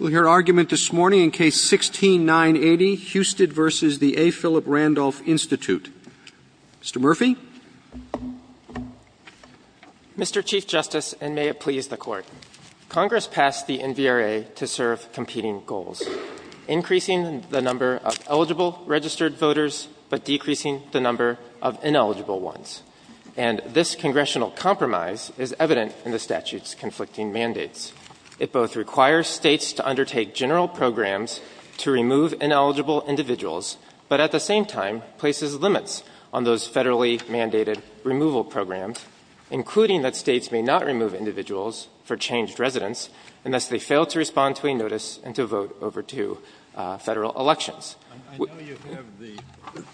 Mr. Murphy. Mr. Chief Justice, and may it please the Court, Congress passed the NVRA to serve competing goals, increasing the number of eligible registered voters, but decreasing the number of ineligible ones. And this Congressional compromise is evident in the statute's conflicting mandates. It requires states to undertake general programs to remove ineligible individuals, but at the same time places limits on those federally mandated removal programs, including that states may not remove individuals for changed residence unless they fail to respond to a notice and to vote over two Federal elections. I know you have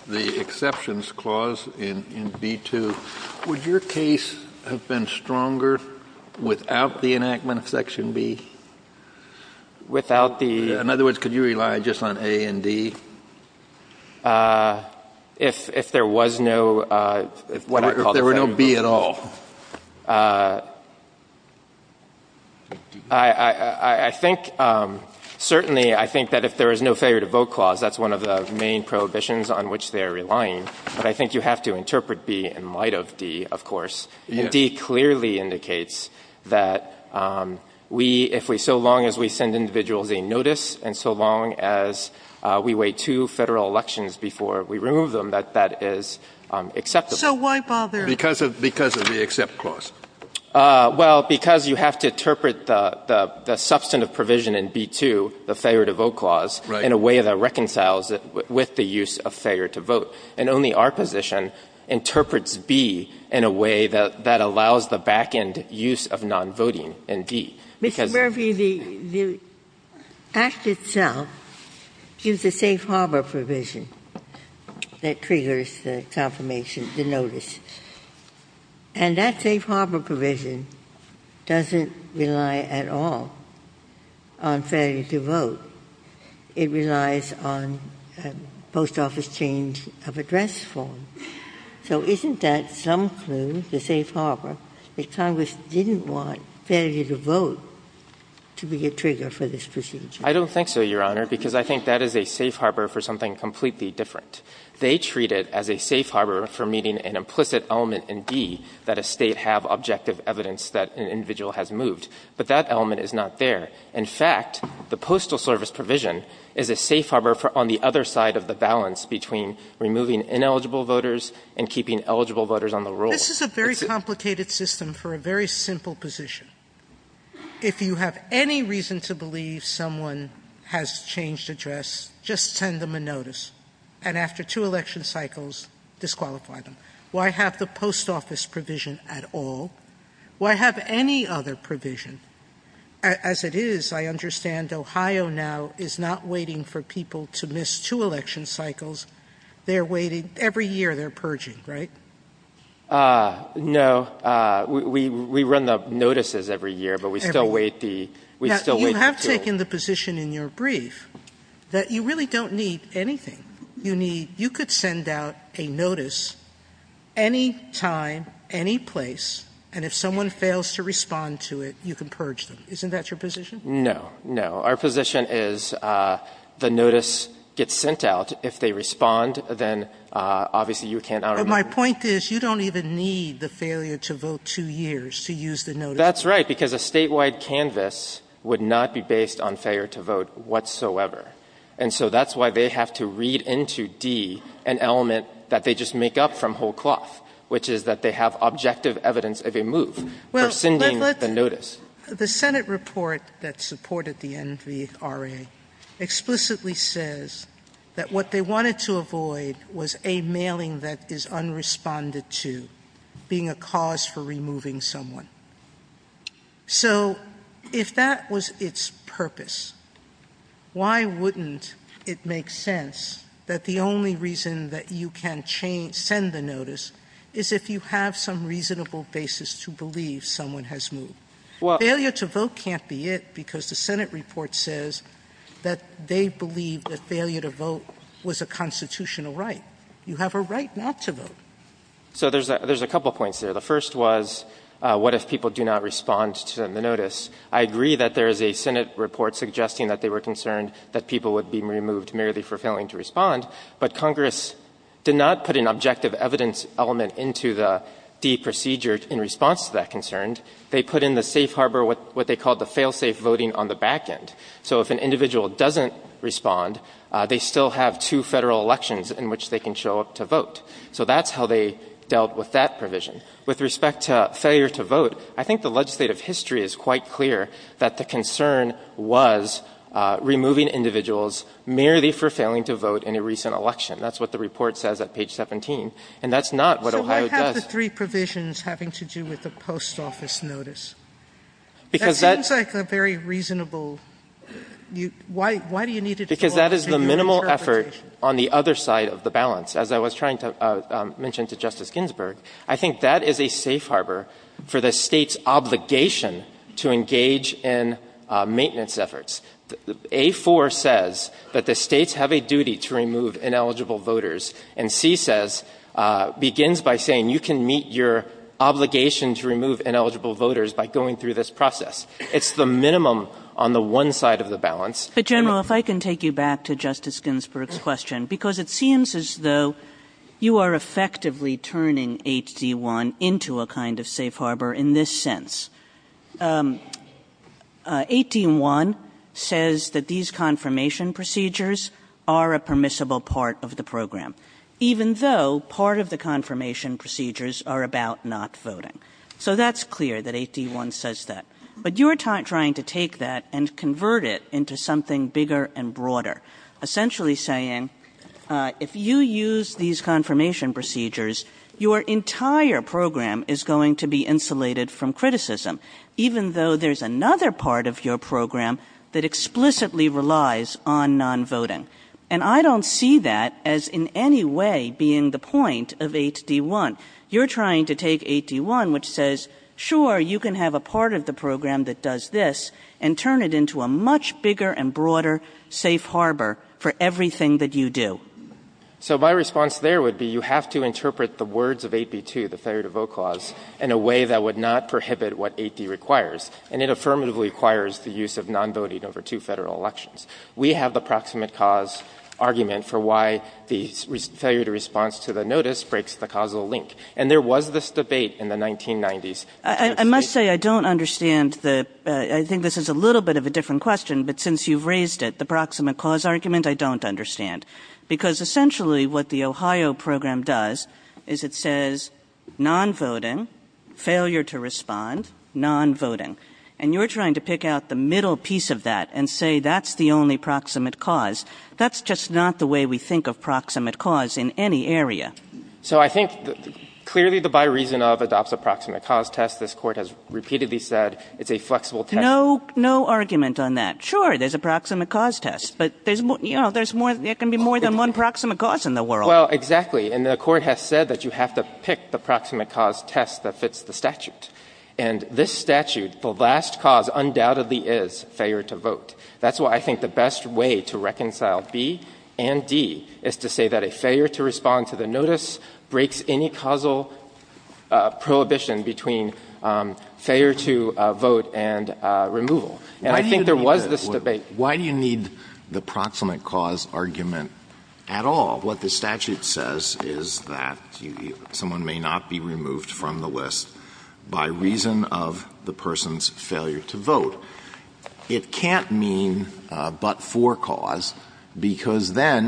the exceptions clause in B-2. Would your case have been stronger without the enactment of Section B? Without the In other words, could you rely just on A and D? If there was no If there were no B at all. I think certainly I think that if there is no failure to vote clause, that's one of the main prohibitions on which they are relying. But I think you have to interpret B in light of D, of course. Yes. And D clearly indicates that we, if we so long as we send individuals a notice and so long as we wait two Federal elections before we remove them, that that is acceptable. So why bother Because of the accept clause. Well, because you have to interpret the substantive provision in B-2, the failure to vote clause, in a way that reconciles it with the use of failure to vote. And only our position interprets B in a way that allows the back-end use of nonvoting in D, because Mr. Murphy, the Act itself gives a safe harbor provision that triggers the confirmation of the notice. And that safe harbor provision doesn't rely at all on failure to vote. It relies on post office change of address form. So isn't that some clue, the safe harbor, that Congress didn't want failure to vote to be a trigger for this procedure? I don't think so, Your Honor, because I think that is a safe harbor for something completely different. They treat it as a safe harbor for meeting an implicit element in D, that a State have objective evidence that an individual has moved. But that element is not there. In fact, the Postal Service provision is a safe harbor for on the other side of the balance between removing ineligible voters and keeping eligible voters on the roll. This is a very complicated system for a very simple position. If you have any reason to believe someone has changed address, just send them a notice. And after two election cycles, disqualify them. Why have the post office provision at all? Why have any other provision? As it is, I understand Ohio now is not waiting for people to miss two election cycles. They are waiting every year. They are purging, right? No. We run the notices every year, but we still wait the two. Now, you have taken the position in your brief that you really don't need anything. You need you could send out a notice any time, any place, and if someone fails to respond to it, you can purge them. Isn't that your position? No. No. Our position is the notice gets sent out. If they respond, then obviously you cannot remove them. But my point is you don't even need the failure to vote two years to use the notice. That's right, because a statewide canvas would not be based on failure to vote whatsoever. And so that's why they have to read into D an element that they just make up from whole cloth, which is that they have objective evidence of a move for sending the notice. The Senate report that supported the NVRA explicitly says that what they wanted to avoid was a mailing that is unresponded to being a cause for removing someone. So if that was its purpose, why wouldn't it make sense that the only reason that you can change send the notice is if you have some reasonable basis to believe someone has moved? Failure to vote can't be it because the Senate report says that they believe that failure to vote was a constitutional right. You have a right not to vote. So there's a couple points there. The first was what if people do not respond to the notice? I agree that there is a Senate report suggesting that they were concerned that people would be removed merely for failing to respond, but Congress did not put an objective evidence element into the D procedure in response to that concern. They put in the safe harbor what they called the fail-safe voting on the back end. So if an individual doesn't respond, they still have two Federal elections in which they can show up to vote. So that's how they dealt with that provision. With respect to failure to vote, I think the legislative history is quite clear that the concern was removing individuals merely for failing to vote in a recent election. That's what the report says at page 17, and that's not what Ohio does. Sotomayor So why have the three provisions having to do with the post office notice? That seems like a very reasonable you why do you need it? Because that is the minimal effort on the other side of the balance. As I was trying to mention to Justice Ginsburg, I think that is a safe harbor for the State's obligation to engage in maintenance efforts. A-4 says that the States have a duty to remove ineligible voters, and C says begins by saying you can meet your obligation to remove ineligible voters by going through this process. It's the minimum on the one side of the balance. Kagan But, General, if I can take you back to Justice Ginsburg's question, because it seems as though you are effectively turning HD-1 into a kind of safe harbor in this sense. HD-1 says that these confirmation procedures are a permissible part of the program, even though part of the confirmation procedures are about not voting. So that's clear that HD-1 says that. But you are trying to take that and convert it into something bigger and broader, essentially saying if you use these confirmation procedures, your entire program is going to be insulated from criticism, even though there's another part of your program that explicitly relies on nonvoting. And I don't see that as in any way being the point of HD-1. You're trying to take HD-1, which says, sure, you can have a part of the program that does this, and turn it into a much bigger and broader safe harbor for everything that you do. So my response there would be you have to interpret the words of 8b-2, the failure-to-vote clause, in a way that would not prohibit what 8d requires. And it affirmatively requires the use of nonvoting over two Federal elections. We have the proximate cause argument for why the failure-to-response to the notice breaks the causal link. And there was this debate in the 1990s. Kagan I must say I don't understand the – I think this is a little bit of a different question, but since you've raised it, the proximate cause argument, I don't understand. Because essentially what the Ohio program does is it says nonvoting, failure-to-respond, nonvoting. And you're trying to pick out the middle piece of that and say that's the only proximate cause. That's just not the way we think of proximate cause in any area. Bursch So I think clearly the by reason of adopts a proximate cause test. This Court has repeatedly said it's a flexible test. Kagan No, no argument on that. Sure, there's a proximate cause test, but there's more – there can be more than one proximate cause in the world. Bursch Well, exactly. And the Court has said that you have to pick the proximate cause test that fits the statute. And this statute, the last cause undoubtedly is failure to vote. That's why I think the best way to reconcile B and D is to say that a failure-to-respond to the notice breaks any causal prohibition between failure-to-vote and removal. And I think there was this debate. Alito Why do you need the proximate cause argument at all? What the statute says is that someone may not be removed from the list by reason of the person's failure to vote. It can't mean but-for cause, because then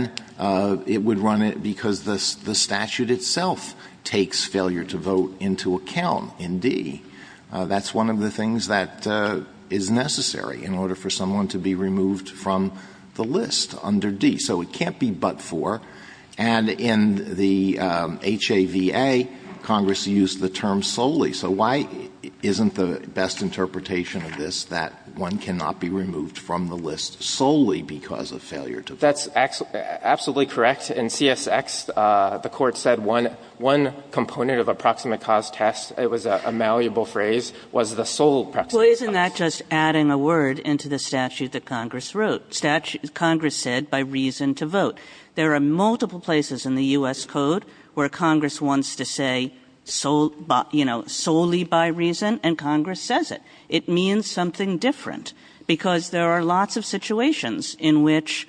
it would run it because the statute itself takes failure-to-vote into account in D. That's one of the things that is necessary in order for someone to be removed from the list under D. So it can't be but-for. And in the HAVA, Congress used the term solely. So why isn't the best interpretation of this that one cannot be removed from the list solely because of failure-to-vote? That's absolutely correct. In CSX, the Court said one component of a proximate cause test, it was a malleable phrase, was the sole proximate cause test. Well, isn't that just adding a word into the statute that Congress wrote? Congress said by reason to vote. There are multiple places in the U.S. Code where Congress wants to say solely by reason, and Congress says it. It means something different, because there are lots of situations in which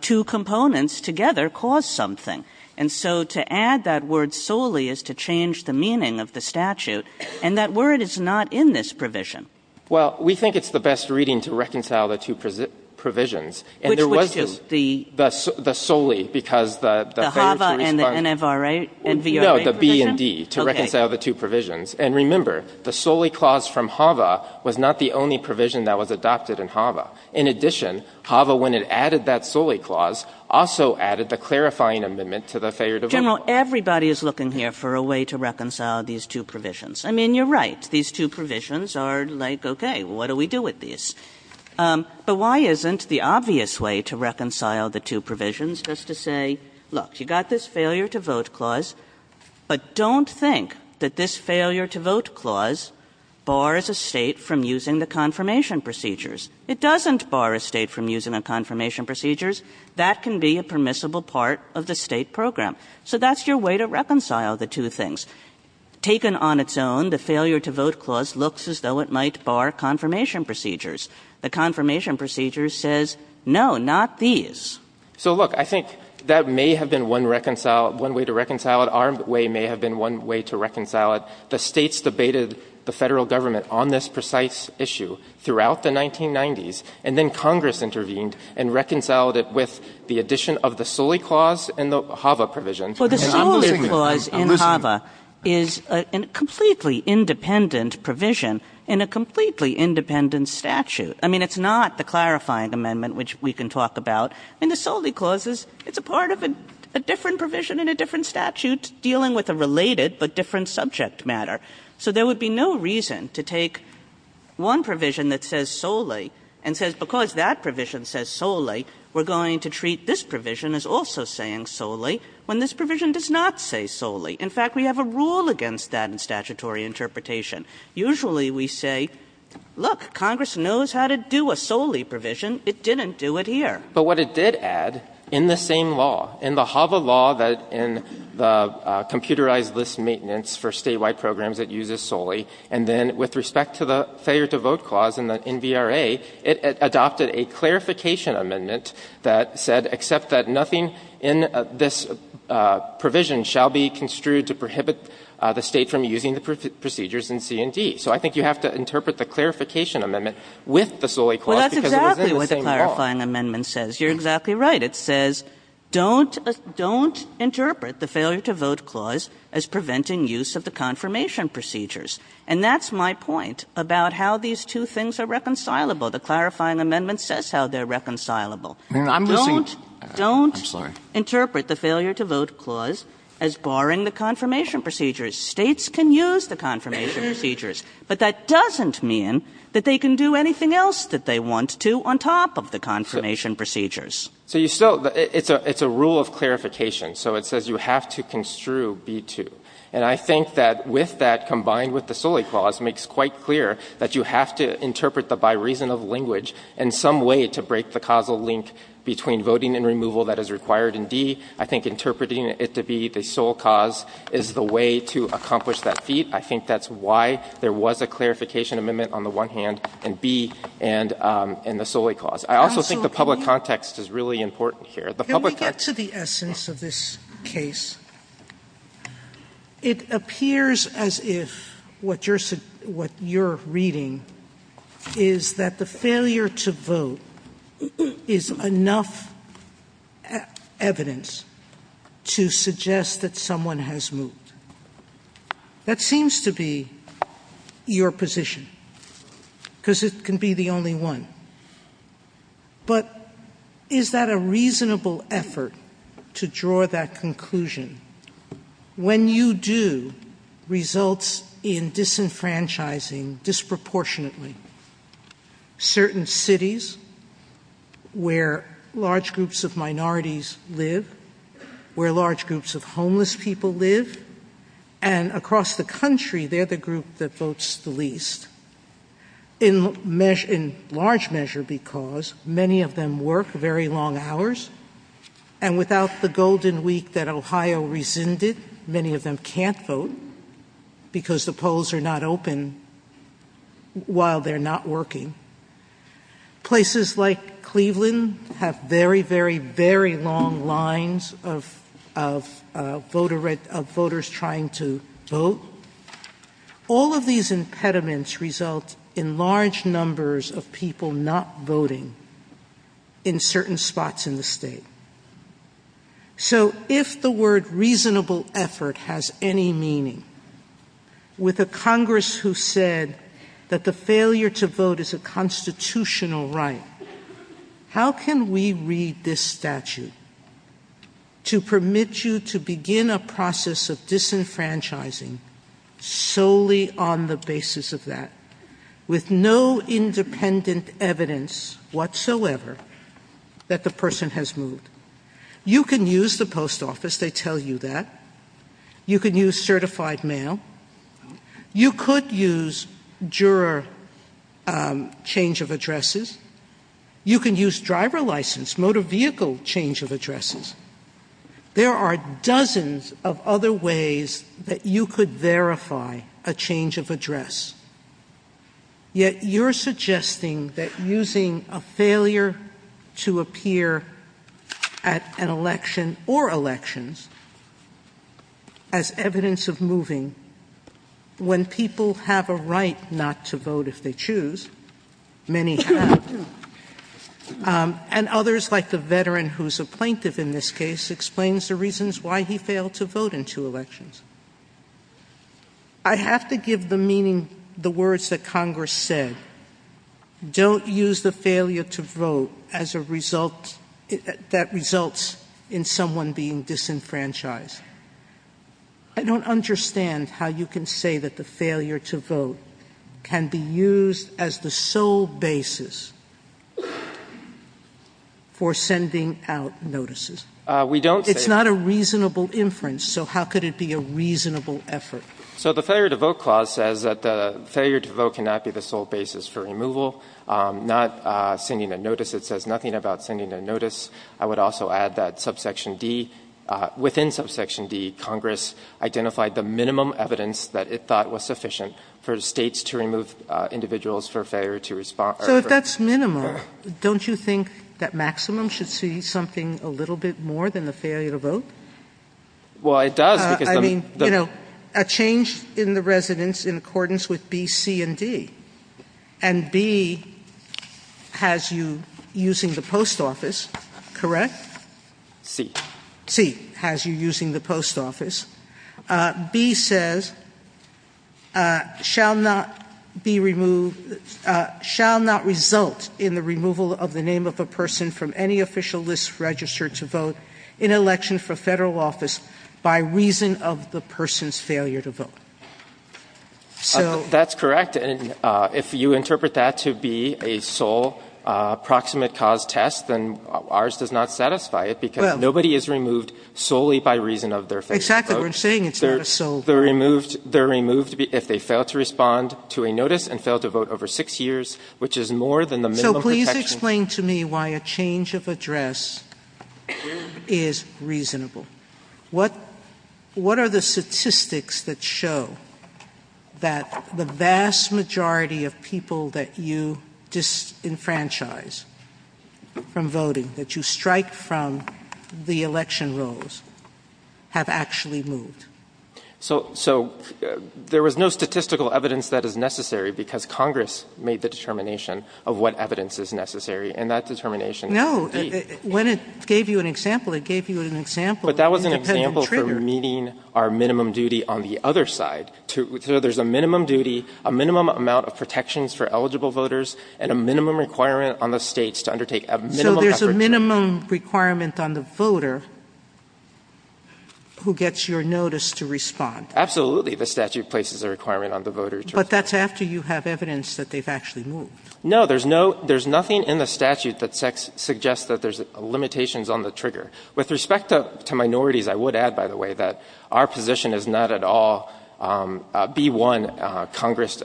two components together cause something. And so to add that word solely is to change the meaning of the statute, and that word is not in this provision. Well, we think it's the best reading to reconcile the two provisions. Which was just the? The solely, because the failure-to-respond. The HAVA and the NFRA and VRA provision? No, the B and D, to reconcile the two provisions. Okay. And remember, the solely clause from HAVA was not the only provision that was adopted in HAVA. In addition, HAVA, when it added that solely clause, also added the clarifying amendment to the failure-to-vote clause. General, everybody is looking here for a way to reconcile these two provisions. I mean, you're right. These two provisions are like, okay, what do we do with these? But why isn't the obvious way to reconcile the two provisions just to say, look, you got this failure-to-vote clause, but don't think that this failure-to-vote clause bars a State from using the confirmation procedures. It doesn't bar a State from using the confirmation procedures. That can be a permissible part of the State program. So that's your way to reconcile the two things. Taken on its own, the failure-to-vote clause looks as though it might bar confirmation procedures. The confirmation procedure says, no, not these. So, look, I think that may have been one reconcile – one way to reconcile it. Our way may have been one way to reconcile it. The States debated the Federal Government on this precise issue throughout the 1990s, and then Congress intervened and reconciled it with the addition of the solely clause in the HAVA provision. Well, the solely clause in HAVA is a completely independent provision in a completely independent statute. I mean, it's not the clarifying amendment, which we can talk about. I mean, the solely clause is – it's a part of a different provision in a different statute dealing with a related but different subject matter. So there would be no reason to take one provision that says solely and says, because that provision says solely, we're going to treat this provision as also saying solely when this provision does not say solely. In fact, we have a rule against that in statutory interpretation. Usually we say, look, Congress knows how to do a solely provision. It didn't do it here. But what it did add in the same law, in the HAVA law that in the computerized list maintenance for statewide programs it uses solely, and then with respect to the failure to vote clause in the NVRA, it adopted a clarification amendment that said except that nothing in this provision shall be construed to prohibit the State from using the procedures in C&D. So I think you have to interpret the clarification amendment with the solely clause because it was in the same law. But the clarifying amendment says, you're exactly right. It says, don't interpret the failure to vote clause as preventing use of the confirmation procedures, and that's my point about how these two things are reconcilable. The clarifying amendment says how they're reconcilable. I'm losing. I'm sorry. Don't, don't interpret the failure to vote clause as barring the confirmation procedures. States can use the confirmation procedures, but that doesn't mean that they can do anything else that they want to on top of the confirmation procedures. So you still, it's a, it's a rule of clarification. So it says you have to construe B-2. And I think that with that, combined with the Soli clause, makes quite clear that you have to interpret the bi-reasonable language in some way to break the causal link between voting and removal that is required in D. I think interpreting it to be the sole cause is the way to accomplish that feat. I think that's why there was a clarification amendment on the one hand, and B, and the Soli clause. I also think the public context is really important here. The public context. Sotomayor, can we get to the essence of this case? It appears as if what you're, what you're reading is that the failure to vote is enough evidence to suggest that someone has moved. That seems to be your position, because it can be the only one. But is that a reasonable effort to draw that conclusion? When you do, results in disenfranchising disproportionately certain cities where large And across the country, they're the group that votes the least. In large measure because many of them work very long hours. And without the golden week that Ohio rescinded, many of them can't vote because the polls are not open while they're not working. Places like Cleveland have very, very, very long lines of voters trying to vote. All of these impediments result in large numbers of people not voting in certain spots in the state. So if the word reasonable effort has any meaning, with a Congress who said that the Constitutional right, how can we read this statute to permit you to begin a process of disenfranchising solely on the basis of that, with no independent evidence whatsoever that the person has moved? You can use the post office, they tell you that. You can use certified mail. You could use juror change of addresses. You can use driver license, motor vehicle change of addresses. There are dozens of other ways that you could verify a change of address. Yet you're suggesting that using a failure to appear at an election or elections as evidence of moving, when people have a right not to vote if they choose, many have, and others like the veteran who's a plaintiff in this case, explains the reasons why he failed to vote in two elections. I have to give the meaning, the words that Congress said. Don't use the failure to vote as a result, that results in someone being disenfranchised. I don't understand how you can say that the failure to vote can be used as the sole basis for sending out notices. It's not a reasonable inference, so how could it be a reasonable effort? So the failure to vote clause says that the failure to vote cannot be the sole basis for removal, not sending a notice. It says nothing about sending a notice. I would also add that subsection D, within subsection D, Congress identified the minimum evidence that it thought was sufficient for the states to remove individuals for failure to respond. So if that's minimum, don't you think that maximum should see something a little bit more than the failure to vote? Well, it does, because- I mean, a change in the residence in accordance with B, C, and D. And B has you using the post office, correct? C. C has you using the post office. B says, shall not be removed, shall not result in the removal of the name of a person from any official list registered to vote in an election for the federal office by reason of the person's failure to vote. So- That's correct, and if you interpret that to be a sole proximate cause test, then ours does not satisfy it because nobody is removed solely by reason of their failure to vote. Exactly, we're saying it's not a sole- They're removed if they fail to respond to a notice and fail to vote over six years, which is more than the minimum protection- What are the statistics that show that the vast majority of people that you disenfranchise from voting, that you strike from the election rolls, have actually moved? So there was no statistical evidence that is necessary because Congress made the determination of what evidence is necessary, and that determination- No, when it gave you an example, it gave you an example- But that was an example for meeting our minimum duty on the other side. So there's a minimum duty, a minimum amount of protections for eligible voters, and a minimum requirement on the States to undertake a minimum- So there's a minimum requirement on the voter who gets your notice to respond. Absolutely, the statute places a requirement on the voter to respond. But that's after you have evidence that they've actually moved. No, there's nothing in the statute that suggests that there's limitations on the trigger. With respect to minorities, I would add, by the way, that our position is not at all B-1. Congress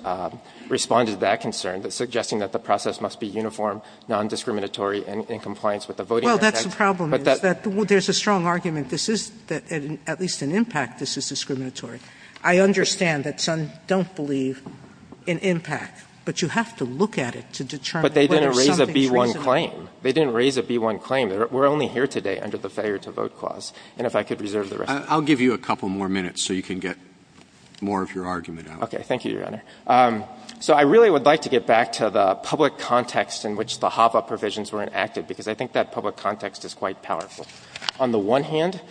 responded to that concern, suggesting that the process must be uniform, nondiscriminatory, and in compliance with the Voting Rights Act, but that- Well, that's the problem, is that there's a strong argument this is, at least in impact, this is discriminatory. I understand that some don't believe in impact, but you have to look at it to determine whether something's reasonable. But they didn't raise a B-1 claim. They didn't raise a B-1 claim. We're only here today under the failure-to-vote clause. And if I could reserve the rest of the- I'll give you a couple more minutes so you can get more of your argument out. Okay. Thank you, Your Honor. So I really would like to get back to the public context in which the HAVA provisions were enacted, because I think that public context is quite powerful. On the one hand,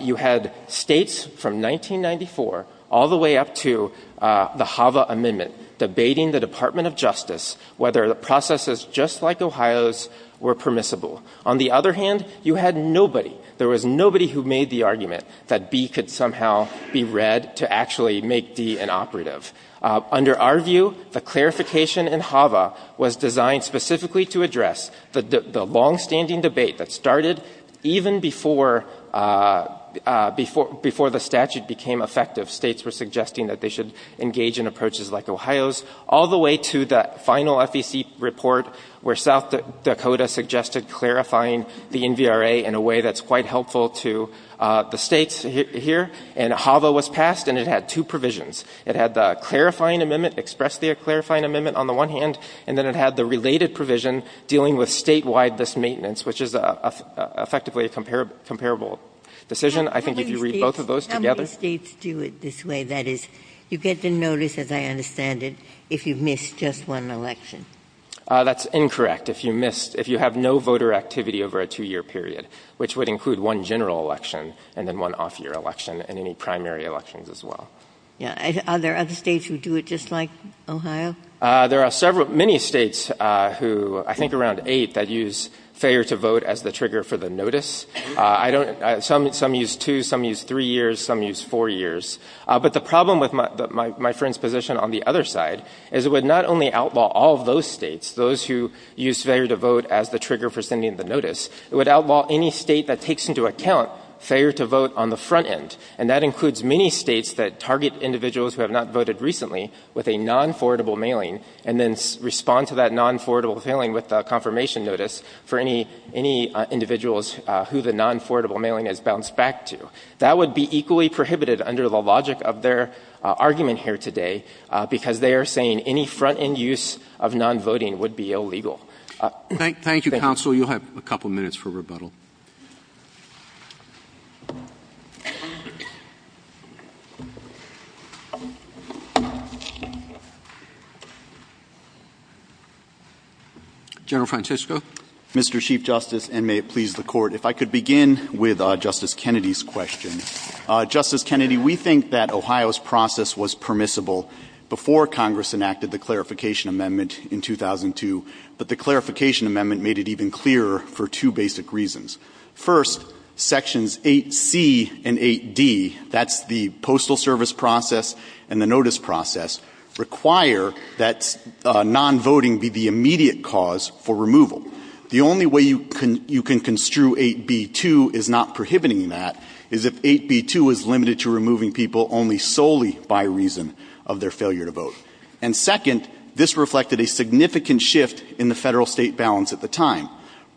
you had States from 1994 all the way up to the HAVA amendment debating the Department of Justice whether the processes, just like Ohio's, were permissible. On the other hand, you had nobody, there was nobody who made the argument that B could somehow be read to actually make D inoperative. Under our view, the clarification in HAVA was designed specifically to address the longstanding debate that started even before the statute became effective. States were suggesting that they should engage in approaches like Ohio's, all the way to the final FEC report, where South Dakota suggested clarifying the NVRA in a way that's quite helpful to the States here. And HAVA was passed, and it had two provisions. It had the clarifying amendment, express the clarifying amendment, on the one hand, and then it had the related provision dealing with State-wide mismaintenance, which is effectively a comparable decision, I think, if you read both of those together. How many States do it this way? That is, you get the notice, as I understand it, if you miss just one election. That's incorrect. If you missed, if you have no voter activity over a two-year period, which would include one general election, and then one off-year election, and any primary elections as well. Yeah. Are there other States who do it just like Ohio? There are several, many States who, I think around eight, that use failure to vote as the trigger for the notice. I don't, some use two, some use three years, some use four years. But the problem with my friend's position on the other side is it would not only outlaw all of those States, those who use failure to vote as the trigger for sending the notice, it would outlaw any State that takes into account failure to vote on the front end, and that includes many States that target individuals who have not voted recently with a non-forwardable mailing and then respond to that non-forwardable mailing with a confirmation notice for any individuals who the non-forwardable mailing has bounced back to. That would be equally prohibited under the logic of their argument here today, because they are saying any front-end use of non-voting would be illegal. Thank you, counsel. You'll have a couple of minutes for rebuttal. General Francisco. Mr. Chief Justice, and may it please the Court, if I could begin with Justice Kennedy's question. Justice Kennedy, we think that Ohio's process was permissible before Congress enacted the Clarification Amendment in 2002, but the Clarification Amendment made it even clearer for two basic reasons. First, Sections 8C and 8D, that's the postal service process and the notice process, require that non-voting be the immediate cause for removal. The only way you can construe 8B2 is not prohibiting that, is if 8B2 is limited to removing people only solely by reason of their failure to vote. And second, this reflected a significant shift in the Federal-State balance at the time.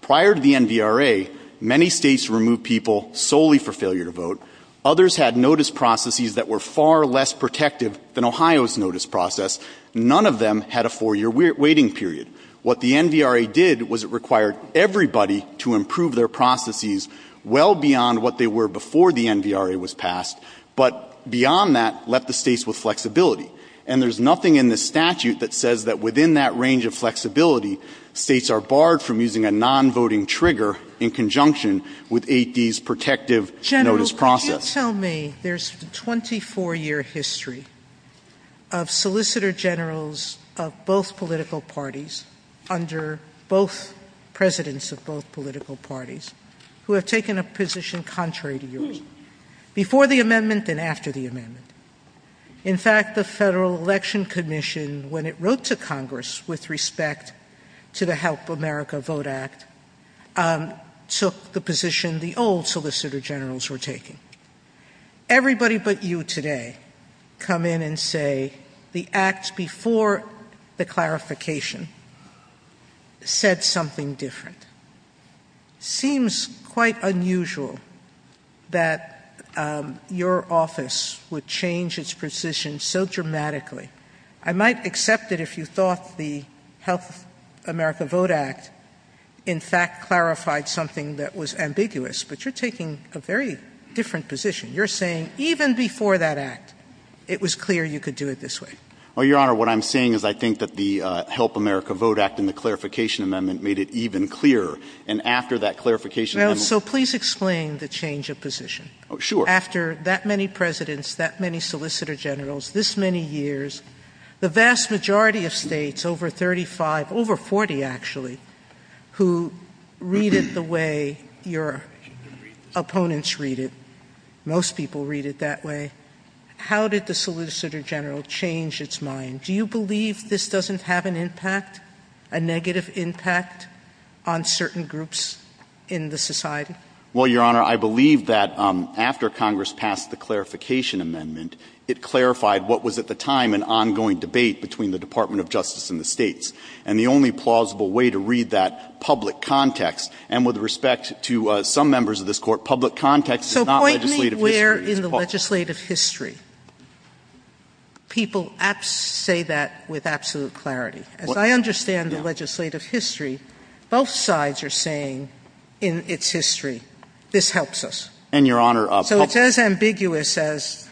Prior to the NVRA, many States removed people solely for failure to vote. Others had notice processes that were far less protective than Ohio's notice process. None of them had a four-year waiting period. What the NVRA did was it required everybody to improve their processes well beyond what they were before the NVRA was passed, but beyond that, left the States with flexibility. And there's nothing in the statute that says that within that range of flexibility, States are barred from using a non-voting trigger in conjunction with 8D's protective notice process. Sotomayor, could you tell me there's a 24-year history of Solicitor Generals of both political parties, under both presidents of both political parties, who have taken a position contrary to yours, before the amendment and after the amendment? In fact, the Federal Election Commission, when it wrote to Congress with respect to the Help America Vote Act, took the position the old Solicitor Generals were taking. Everybody but you today come in and say the act before the clarification said something different. Seems quite unusual that your office would change its position so dramatically. I might accept that if you thought the Help America Vote Act, in fact, clarified something that was ambiguous, but you're taking a very different position. You're saying even before that act, it was clear you could do it this way. Well, Your Honor, what I'm saying is I think that the Help America Vote Act and the clarification amendment made it even clearer. And after that clarification amendment – Well, so please explain the change of position. Sure. After that many presidents, that many Solicitor Generals, this many years, the vast majority of states, over 35, over 40 actually, who read it the way your opponents read it, most people read it that way, how did the Solicitor General change its mind? Do you believe this doesn't have an impact, a negative impact, on certain groups in the society? Well, Your Honor, I believe that after Congress passed the clarification amendment, it clarified what was at the time an ongoing debate between the Department of Justice and the states. And the only plausible way to read that public context, and with respect to some members of this Court, public context is not legislative history. So point me where in the legislative history people say that with absolute clarity. As I understand the legislative history, both sides are saying in its history, this helps us. And, Your Honor, public – So it's as ambiguous as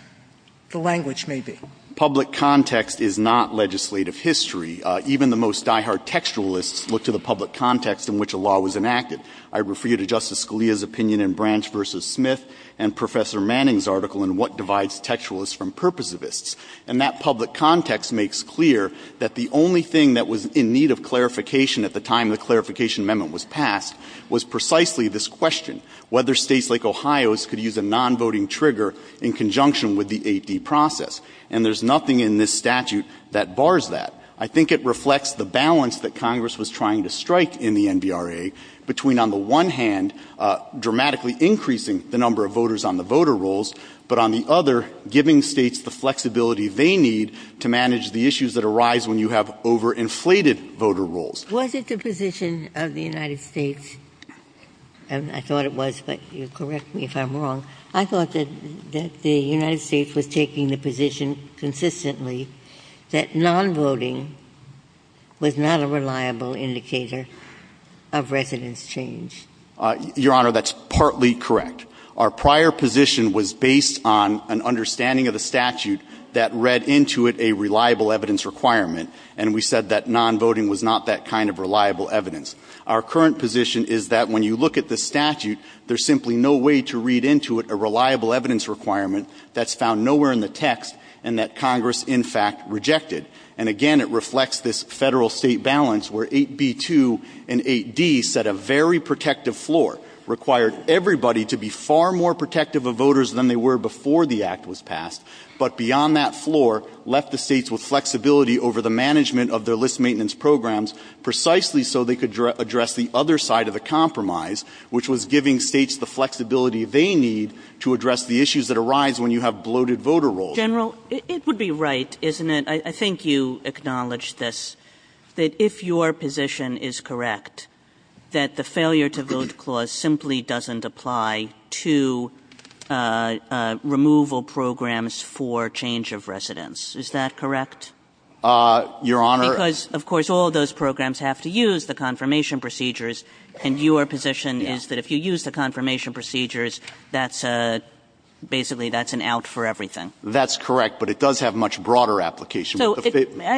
the language may be. Public context is not legislative history. Even the most diehard textualists look to the public context in which a law was enacted. I refer you to Justice Scalia's opinion in Branch v. Smith and Professor Manning's article in What Divides Textualists from Purposivists. And that public context makes clear that the only thing that was in need of clarification at the time the clarification amendment was passed was precisely this question, whether states like Ohio's could use a non-voting trigger in conjunction with the 8D process. And there's nothing in this statute that bars that. I think it reflects the balance that Congress was trying to strike in the NBRA between on the one hand dramatically increasing the number of voters on the voter rolls, but on the other, giving states the flexibility they need to manage the issues that arise when you have overinflated voter rolls. Was it the position of the United States – and I thought it was, but you correct me if I'm wrong – I thought that the United States was taking the position consistently that non-voting was not a reliable indicator of residence change? Your Honor, that's partly correct. Our prior position was based on an understanding of the statute that read into it a reliable evidence requirement, and we said that non-voting was not that kind of reliable evidence. Our current position is that when you look at the statute, there's simply no way to read into it a reliable evidence requirement that's found nowhere in the text and that Congress in fact rejected. And again, it reflects this Federal-State balance where 8B-2 and 8D set a very protective floor, required everybody to be far more protective of voters than they were before the Act was passed. And so the Federal-State balance was that states had flexibility over the management of their list maintenance programs precisely so they could address the other side of the compromise, which was giving states the flexibility they need to address the issues that arise when you have bloated voter rolls. Kagan. Kagan. Kagan. General, it would be right, isn't it, I think you acknowledge this, that if your position is correct, that the failure-to-vote clause simply doesn't apply to removal programs for change of residence. Is that correct? Your Honor. Because, of course, all of those programs have to use the confirmation procedures and your position is that if you use the confirmation procedures, that's a, basically that's an out for everything. That's correct, but it does have much broader application. So,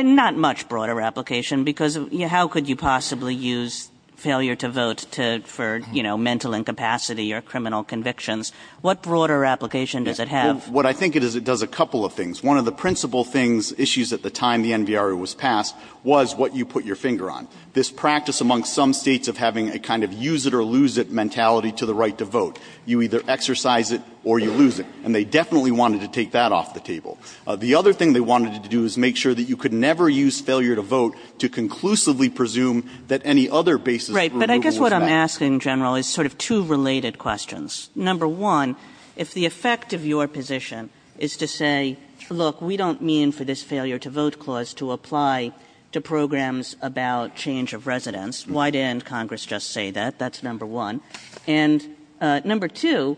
not much broader application because how could you possibly use failure-to-vote to, for, you know, mental incapacity or criminal convictions? What broader application does it have? What I think it is, it does a couple of things. One of the principal things, issues at the time the NVRU was passed, was what you put your finger on. This practice amongst some States of having a kind of use-it-or-lose-it mentality to the right to vote. You either exercise it or you lose it, and they definitely wanted to take that off the table. The other thing they wanted to do is make sure that you could never use failure-to-vote to conclusively presume that any other basis for removal is valid. Right. But I guess what I'm asking, General, is sort of two related questions. Number one, if the effect of your position is to say, look, we don't mean for this failure-to-vote clause to apply to programs about change of residence, why didn't Congress just say that? That's number one. And number two,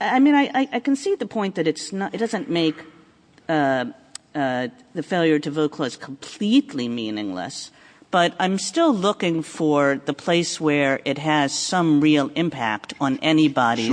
I mean, I concede the point that it's not, it doesn't make the failure-to-vote clause completely meaningless, but I'm still looking for the place where it has some real impact on anybody.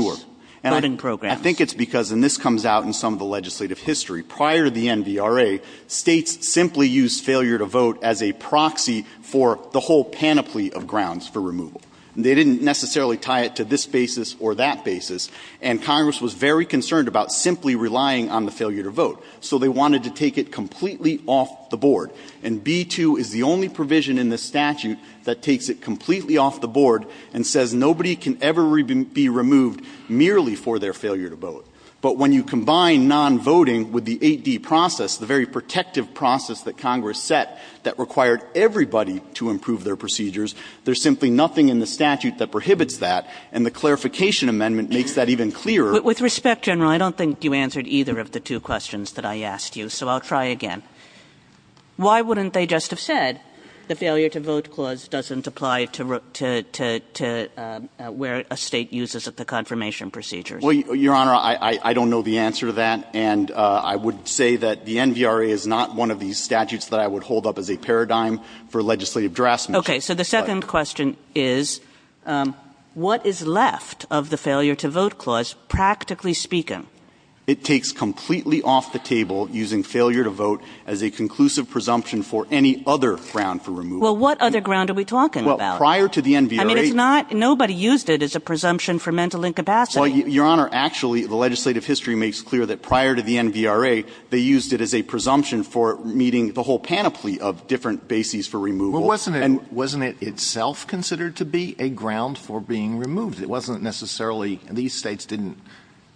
And I think it's because, and this comes out in some of the legislative history, prior to the NVRA, States simply used failure-to-vote as a proxy for the whole panoply of grounds for removal. They didn't necessarily tie it to this basis or that basis, and Congress was very concerned about simply relying on the failure-to-vote. So they wanted to take it completely off the board. And B-2 is the only provision in the statute that takes it completely off the board and says nobody can ever be removed merely for their failure-to-vote. But when you combine non-voting with the 8D process, the very protective process that Congress set that required everybody to improve their procedures, there's simply nothing in the statute that prohibits that. And the Clarification Amendment makes that even clearer. Kagan. With respect, General, I don't think you answered either of the two questions that I asked you, so I'll try again. Why wouldn't they just have said the failure-to-vote clause doesn't apply to where a State uses the confirmation procedures? Well, Your Honor, I don't know the answer to that, and I would say that the NVRA is not one of these statutes that I would hold up as a paradigm for legislative draftsmen. Okay. So the second question is, what is left of the failure-to-vote clause, practically speaking? It takes completely off the table using failure-to-vote as a conclusive presumption for any other ground for removal. Well, what other ground are we talking about? Well, prior to the NVRA It's not – nobody used it as a presumption for mental incapacity. Well, Your Honor, actually, the legislative history makes clear that prior to the NVRA, they used it as a presumption for meeting the whole panoply of different bases for removal. Well, wasn't it – wasn't it itself considered to be a ground for being removed? It wasn't necessarily – these states didn't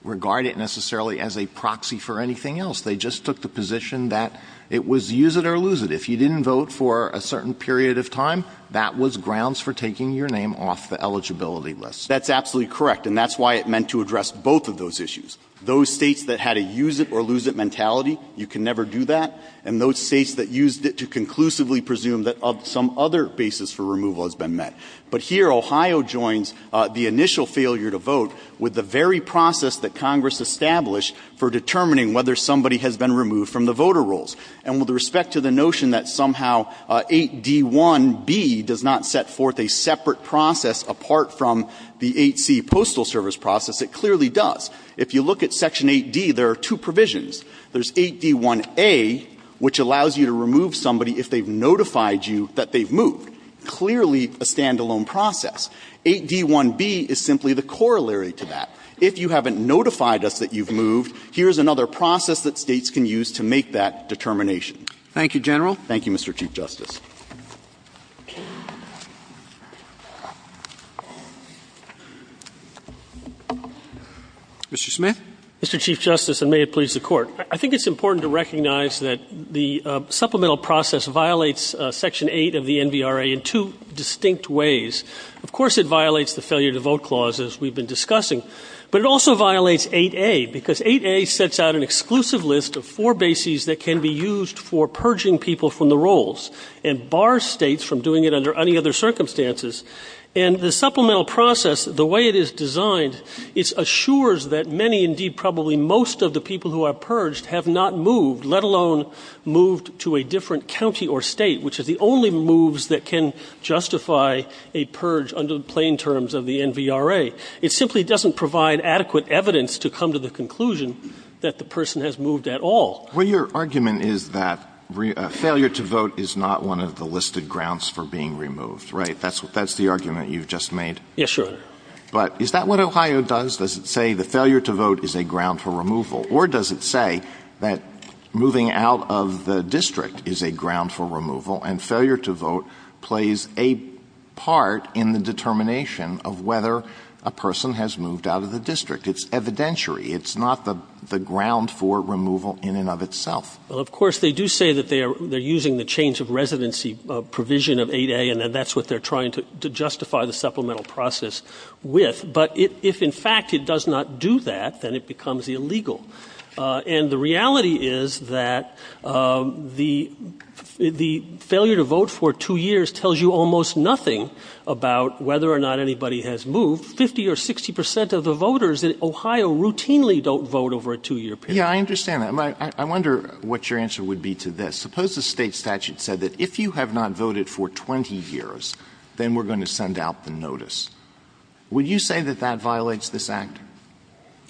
regard it necessarily as a proxy for anything else. They just took the position that it was use it or lose it. If you didn't vote for a certain period of time, that was grounds for taking your name off the eligibility list. That's absolutely correct, and that's why it meant to address both of those issues. Those states that had a use it or lose it mentality, you can never do that. And those states that used it to conclusively presume that some other basis for removal has been met. But here, Ohio joins the initial failure to vote with the very process that Congress established for determining whether somebody has been removed from the voter rolls. And with respect to the notion that somehow 8d1b does not set forth a separate process apart from the 8c postal service process, it clearly does. If you look at Section 8d, there are two provisions. There's 8d1a, which allows you to remove somebody if they've notified you that they've moved. Clearly a stand-alone process. 8d1b is simply the corollary to that. If you haven't notified us that you've moved, here's another process that States can use to make that determination. Thank you, General. Thank you, Mr. Chief Justice. Mr. Smith. Mr. Chief Justice, and may it please the Court. I think it's important to recognize that the supplemental process violates Section 8 of the NVRA in two distinct ways. Of course, it violates the failure to vote clauses we've been discussing. But it also violates 8a, because 8a sets out an exclusive list of four bases that can be used for purging people from the rolls and bars States from doing it under any other circumstances. And the supplemental process, the way it is designed, it assures that many, indeed probably most, of the people who are purged have not moved, let alone moved to a different county or State, which is the only moves that can justify a purge under the plain terms of the NVRA. It simply doesn't provide adequate evidence to come to the conclusion that the person has moved at all. Well, your argument is that failure to vote is not one of the listed grounds for being removed, right? That's the argument you've just made? Yes, Your Honor. But is that what Ohio does? Does it say the failure to vote is a ground for removal? Or does it say that moving out of the district is a ground for removal, and failure to vote plays a part in the determination of whether a person has moved out of the district? It's evidentiary. It's not the ground for removal in and of itself. Well, of course, they do say that they are using the change of residency provision of 8a, and that's what they're trying to justify the supplemental process with. But if, in fact, it does not do that, then it becomes illegal. And the reality is that the failure to vote for two years tells you almost nothing about whether or not anybody has moved. Fifty or 60 percent of the voters in Ohio routinely don't vote over a two-year period. Yeah, I understand that. I wonder what your answer would be to this. Suppose the State statute said that if you have not voted for 20 years, then we're going to send out the notice. Would you say that that violates this Act?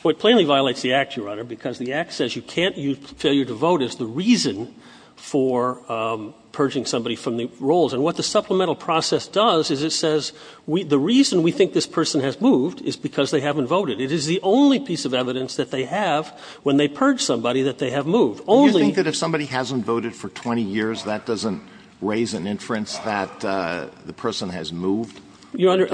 Well, it plainly violates the Act, Your Honor, because the Act says you can't use failure to vote as the reason for purging somebody from the roles. And what the supplemental process does is it says the reason we think this person has moved is because they haven't voted. It is the only piece of evidence that they have when they purge somebody that they have moved. Only the one that they have moved. Do you think that if somebody hasn't voted for 20 years, that doesn't raise an inference that the person has moved? Your Honor,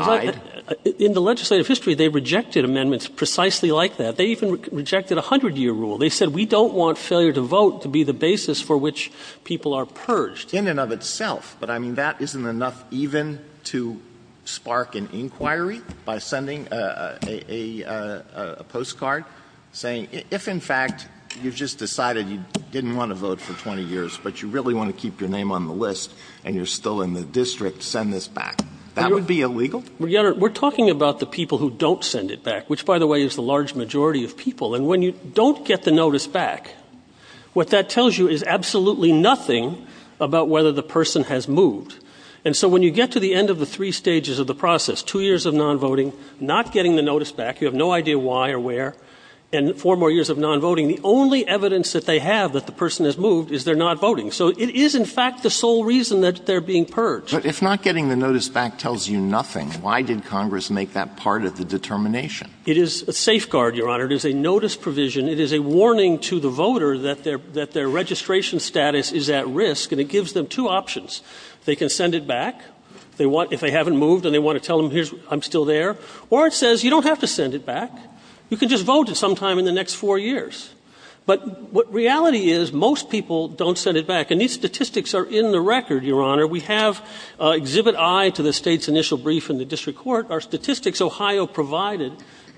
in the legislative history, they rejected amendments precisely like that. They even rejected a hundred-year rule. They said we don't want failure to vote to be the basis for which people are purged. In and of itself. But, I mean, that isn't enough even to spark an inquiry by sending a postcard saying if, in fact, you've just decided you didn't want to vote for 20 years, but you really want to keep your name on the list and you're still in the district, send this back. That would be illegal? Your Honor, we're talking about the people who don't send it back, which, by the way, is the large majority of people. And when you don't get the notice back, what that tells you is absolutely nothing about whether the person has moved. And so when you get to the end of the three stages of the process, two years of non-voting, not getting the notice back, you have no idea why or where, and four more years of non-voting, the only evidence that they have that the person has moved is they're not voting. So it is, in fact, the sole reason that they're being purged. But if not getting the notice back tells you nothing, why did Congress make that part of the determination? It is a safeguard, Your Honor. It is a notice provision. It is a warning to the voter that their registration status is at risk, and it gives them two options. They can send it back if they haven't moved and they want to tell them I'm still there, or it says you don't have to send it back. You can just vote at some time in the next four years. But what reality is, most people don't send it back. And these statistics are in the record, Your Honor. We have Exhibit I to the state's initial brief in the district court. Our statistics, Ohio provided,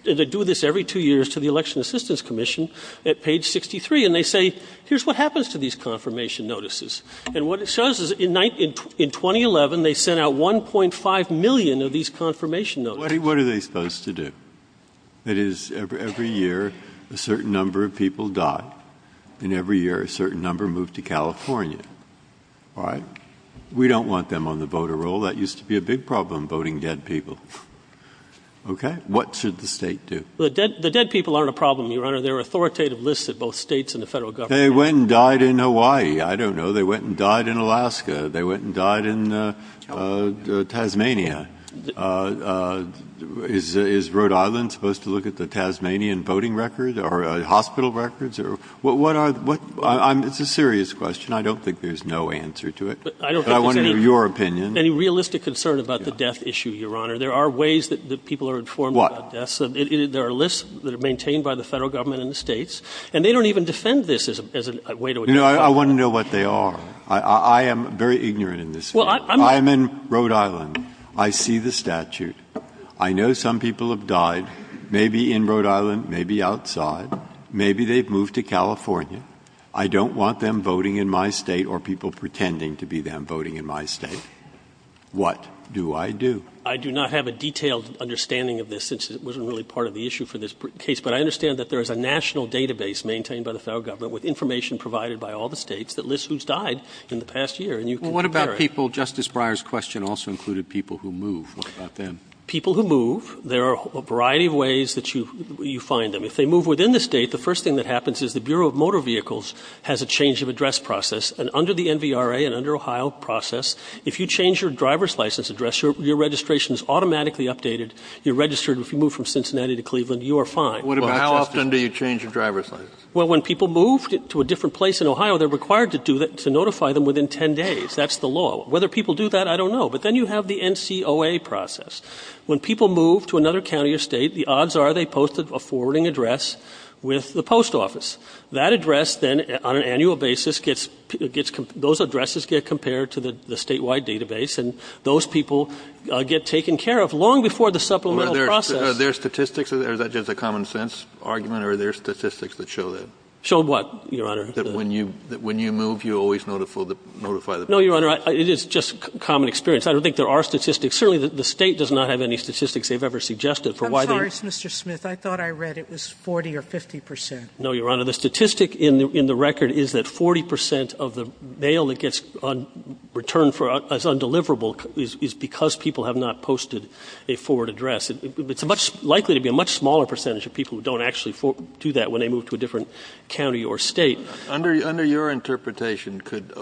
and they do this every two years to the Election Assistance Commission, at page 63. And they say, here's what happens to these confirmation notices. And what it shows is in 2011, they sent out 1.5 million of these confirmation notices. What are they supposed to do? That is, every year, a certain number of people die, and every year, a certain number move to California, all right? We don't want them on the voter roll. That used to be a big problem, voting dead people. OK? What should the state do? The dead people aren't a problem, Your Honor. They're authoritative lists at both states and the federal government. They went and died in Hawaii. I don't know. They went and died in Alaska. They went and died in Tasmania. Is Rhode Island supposed to look at the Tasmanian voting record, or hospital records? It's a serious question. I don't think there's no answer to it. I want to know your opinion. Any realistic concern about the death issue, Your Honor? There are ways that people are informed about deaths. There are lists that are maintained by the federal government and the states. And they don't even defend this as a way to identify them. I want to know what they are. I am very ignorant in this field. I'm in Rhode Island. I see the statute. I know some people have died, maybe in Rhode Island, maybe outside. Maybe they've moved to California. I don't want them voting in my state or people pretending to be them voting in my state. What do I do? I do not have a detailed understanding of this, since it wasn't really part of the issue for this case. But I understand that there is a national database maintained by the federal government with information provided by all the states that lists who's died in the past year. And you can compare it. Well, what about people, Justice Breyer's question also included people who move. What about them? People who move, there are a variety of ways that you find them. If they move within the state, the first thing that happens is the Bureau of Motor Vehicles has a change of address process. And under the NVRA and under Ohio process, if you change your driver's license address, your registration is automatically updated. You're registered. If you move from Cincinnati to Cleveland, you are fine. Well, how often do you change your driver's license? Well, when people moved to a different place in Ohio, they're required to notify them within 10 days. That's the law. Whether people do that, I don't know. But then you have the NCOA process. When people move to another county or state, the odds are they post a forwarding address with the post office. That address, then, on an annual basis, those addresses get compared to the statewide database. And those people get taken care of long before the supplemental process. Are there statistics? Or is that just a common sense argument? Or are there statistics that show that? Show what, Your Honor? That when you move, you always notify the people. No, Your Honor. It is just common experience. I don't think there are statistics. Certainly, the state does not have any statistics they've ever suggested for why they don't. I'm sorry, Mr. Smith. I thought I read it was 40 or 50 percent. No, Your Honor. The statistic in the record is that 40 percent of the mail that gets returned for as undeliverable is because people have not posted a forward address. It's likely to be a much smaller percentage of people who don't actually do that when they move to a different county or state. Under your interpretation, could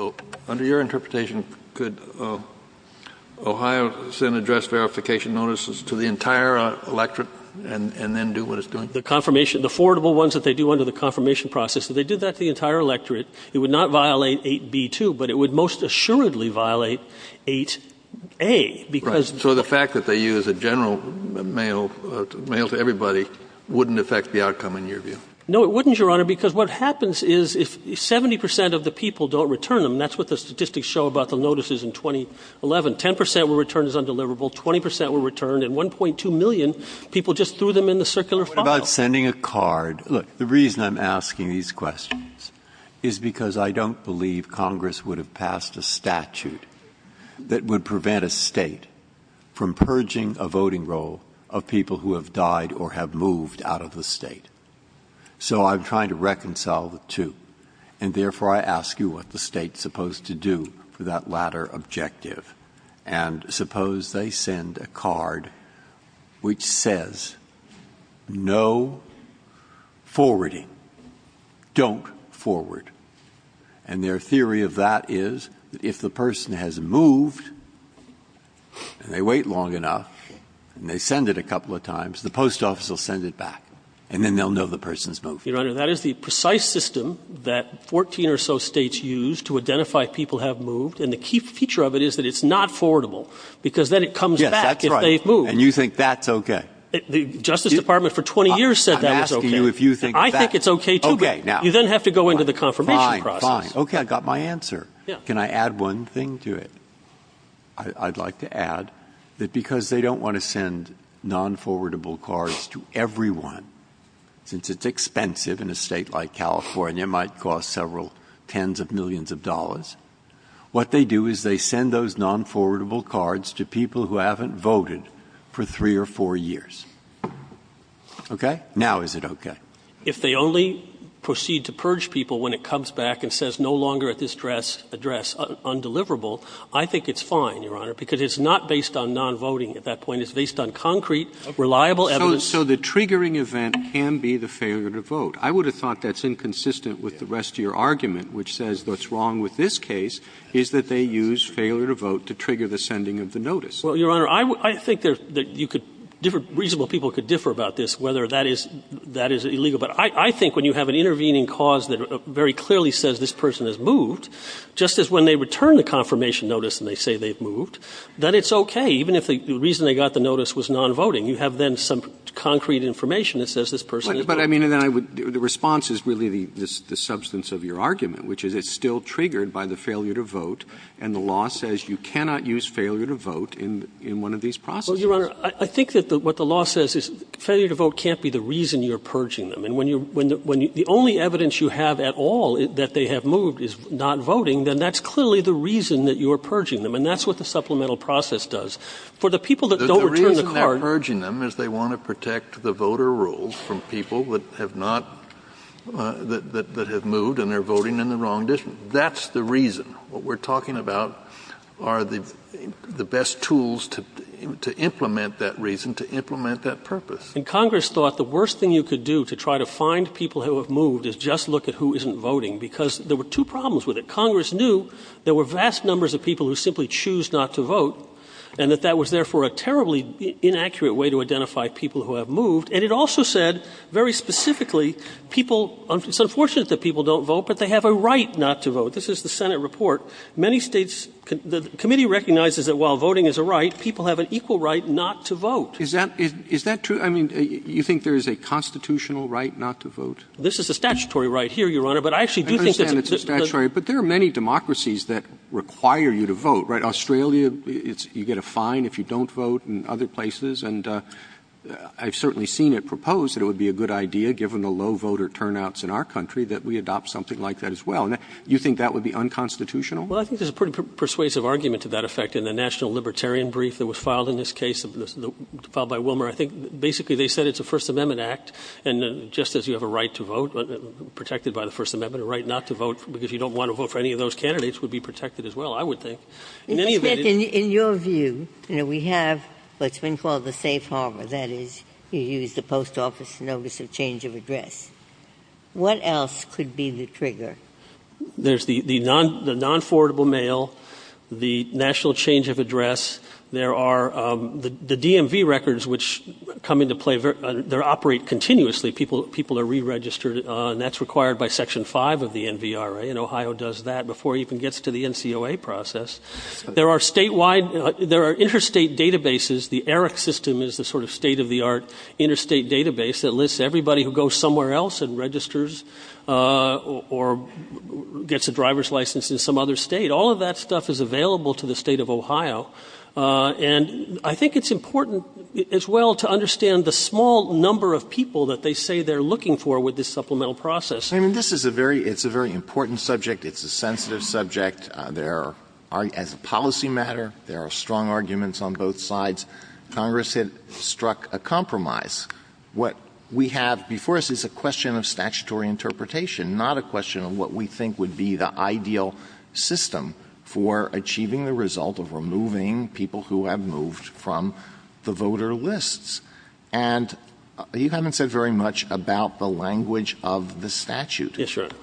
Ohio send address verification notices to the entire electorate and then do what it's doing? The confirmation, the forwardable ones that they do under the confirmation process. If they did that to the entire electorate, it would not violate 8B2, but it would most assuredly violate 8A because... So the fact that they use a general mail to everybody wouldn't affect the outcome in your view? No, it wouldn't, Your Honor, because what happens is if 70 percent of the people don't return them, that's what the statistics show about the notices in 2011, 10 percent were returned as undeliverable, 20 percent were returned, and 1.2 million people just threw them in the circular file. What about sending a card? Look, the reason I'm asking these questions is because I don't believe Congress would have passed a statute that would prevent a state from purging a voting roll of people who have died or have moved out of the state. So I'm trying to reconcile the two. And therefore, I ask you what the state's supposed to do for that latter objective. And suppose they send a card which says, no forwarding, don't forward. And their theory of that is if the person has moved, and they wait long enough, and they send it a couple of times, the post office will send it back. And then they'll know the person's moved. Your Honor, that is the precise system that 14 or so states use to identify people have moved. And the key feature of it is that it's not forwardable. Because then it comes back if they've moved. And you think that's okay? The Justice Department for 20 years said that was okay. I think it's okay too, but you then have to go into the confirmation process. Okay, I got my answer. Can I add one thing to it? I'd like to add that because they don't want to send non-forwardable cards to everyone, since it's expensive in a state like California, it might cost several tens of millions of dollars. What they do is they send those non-forwardable cards to people who haven't voted for three or four years. Okay, now is it okay? If they only proceed to purge people when it comes back and says no longer at this address, undeliverable, I think it's fine, Your Honor. Because it's not based on non-voting at that point, it's based on concrete, reliable evidence. So the triggering event can be the failure to vote. I would have thought that's inconsistent with the rest of your argument, which says what's wrong with this case, is that they use failure to vote to trigger the sending of the notice. Well, Your Honor, I think reasonable people could differ about this, whether that is illegal. But I think when you have an intervening cause that very clearly says this person has moved, just as when they return the confirmation notice and they say they've moved, that it's okay. Even if the reason they got the notice was non-voting, you have then some concrete information that says this person has moved. But I mean, the response is really the substance of your argument, which is it's still triggered by the failure to vote. And the law says you cannot use failure to vote in one of these processes. Well, Your Honor, I think that what the law says is failure to vote can't be the reason you're purging them. And when the only evidence you have at all that they have moved is not voting, then that's clearly the reason that you're purging them. And that's what the supplemental process does. For the people that don't return the card- They want to protect the voter rolls from people that have not, that have moved and they're voting in the wrong district. That's the reason. What we're talking about are the best tools to implement that reason, to implement that purpose. And Congress thought the worst thing you could do to try to find people who have moved is just look at who isn't voting. Because there were two problems with it. Congress knew there were vast numbers of people who simply choose not to vote. And that that was, therefore, a terribly inaccurate way to identify people who have moved. And it also said, very specifically, people, it's unfortunate that people don't vote, but they have a right not to vote. This is the Senate report. Many states, the committee recognizes that while voting is a right, people have an equal right not to vote. Is that, is that true? I mean, you think there is a constitutional right not to vote? This is a statutory right here, Your Honor, but I actually do think that- I understand it's a statutory, but there are many democracies that require you to vote, right? Australia, you get a fine if you don't vote, and other places. And I've certainly seen it proposed that it would be a good idea, given the low voter turnouts in our country, that we adopt something like that as well. And you think that would be unconstitutional? Well, I think there's a pretty persuasive argument to that effect in the National Libertarian Brief that was filed in this case, filed by Wilmer. I think, basically, they said it's a First Amendment act, and just as you have a right to vote, protected by the First Amendment, a right not to vote because you don't want to vote for any of those candidates would be protected as well, I would think. In your view, we have what's been called the safe harbor, that is, you use the post office notice of change of address, what else could be the trigger? There's the non-forwardable mail, the national change of address, there are the DMV records which come into play, they operate continuously. People are re-registered, and that's required by Section 5 of the NVRA, and there are interstate databases, the ERIC system is the sort of state-of-the-art interstate database that lists everybody who goes somewhere else and registers or gets a driver's license in some other state, all of that stuff is available to the state of Ohio. And I think it's important as well to understand the small number of people that they say they're looking for with this supplemental process. I mean, this is a very, it's a very important subject, it's a sensitive subject. There are, as a policy matter, there are strong arguments on both sides. Congress had struck a compromise. What we have before us is a question of statutory interpretation, not a question of what we think would be the ideal system for achieving the result of removing people who have moved from the voter lists. And you haven't said very much about the language of the statute. Yes, Your Honor.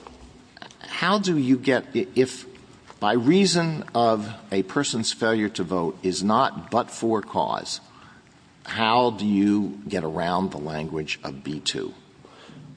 How do you get, if by reason of a person's failure to vote is not but for cause. How do you get around the language of B-2?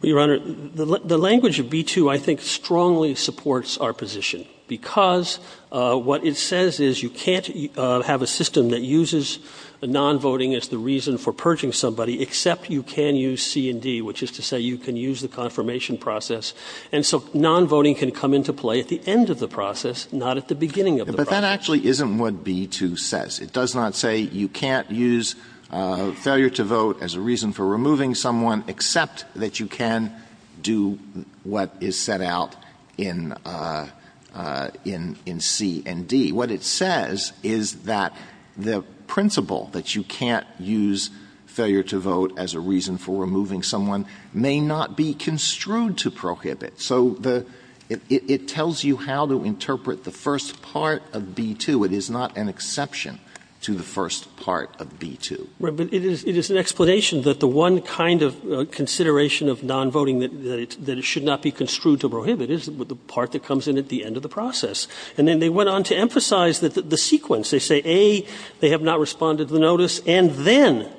Your Honor, the language of B-2 I think strongly supports our position. Because what it says is you can't have a system that uses non-voting as the reason for purging somebody except you can use C and D, which is to say you can use the confirmation process. And so non-voting can come into play at the end of the process, not at the beginning of the process. But that actually isn't what B-2 says. It does not say you can't use failure to vote as a reason for removing someone except that you can do what is set out in C and D. What it says is that the principle that you can't use failure to vote as a reason for removing someone may not be construed to prohibit. So it tells you how to interpret the first part of B-2. It is not an exception to the first part of B-2. Right, but it is an explanation that the one kind of consideration of non-voting that it should not be construed to prohibit is the part that comes in at the end of the process. And then they went on to emphasize the sequence. They say, A, they have not responded to the notice, and then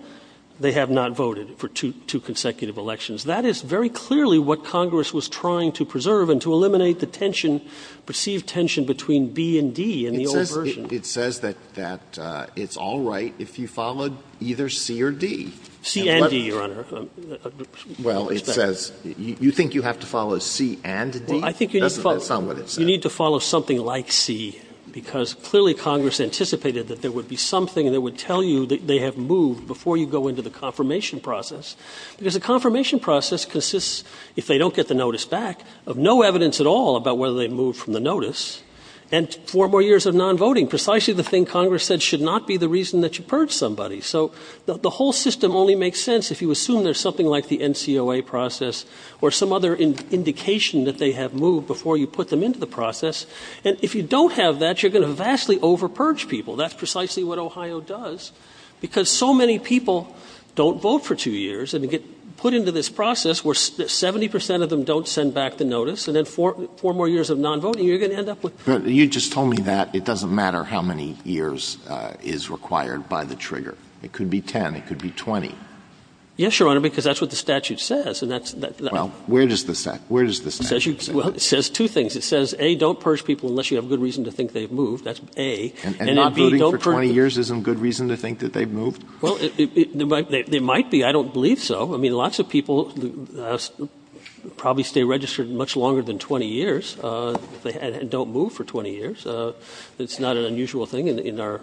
they have not voted for two consecutive elections. That is very clearly what Congress was trying to preserve and to eliminate the tension, perceived tension between B and D in the old version. It says that it's all right if you followed either C or D. C and D, Your Honor. Well, it says you think you have to follow C and D? That's not what it says. I like C, because clearly Congress anticipated that there would be something that would tell you that they have moved before you go into the confirmation process. Because a confirmation process consists, if they don't get the notice back, of no evidence at all about whether they moved from the notice. And four more years of non-voting, precisely the thing Congress said should not be the reason that you purge somebody. So the whole system only makes sense if you assume there's something like the NCOA process or some other indication that they have moved before you put them into the process. And if you don't have that, you're going to vastly over-purge people. That's precisely what Ohio does. Because so many people don't vote for two years, and they get put into this process where 70% of them don't send back the notice. And then four more years of non-voting, you're going to end up with- You just told me that it doesn't matter how many years is required by the trigger. It could be 10, it could be 20. Yes, Your Honor, because that's what the statute says. And that's- Well, where does the statute say that? It says two things. It says, A, don't purge people unless you have good reason to think they've moved. That's A. And non-voting for 20 years isn't good reason to think that they've moved? Well, it might be. I don't believe so. I mean, lots of people probably stay registered much longer than 20 years and don't move for 20 years. It's not an unusual thing in our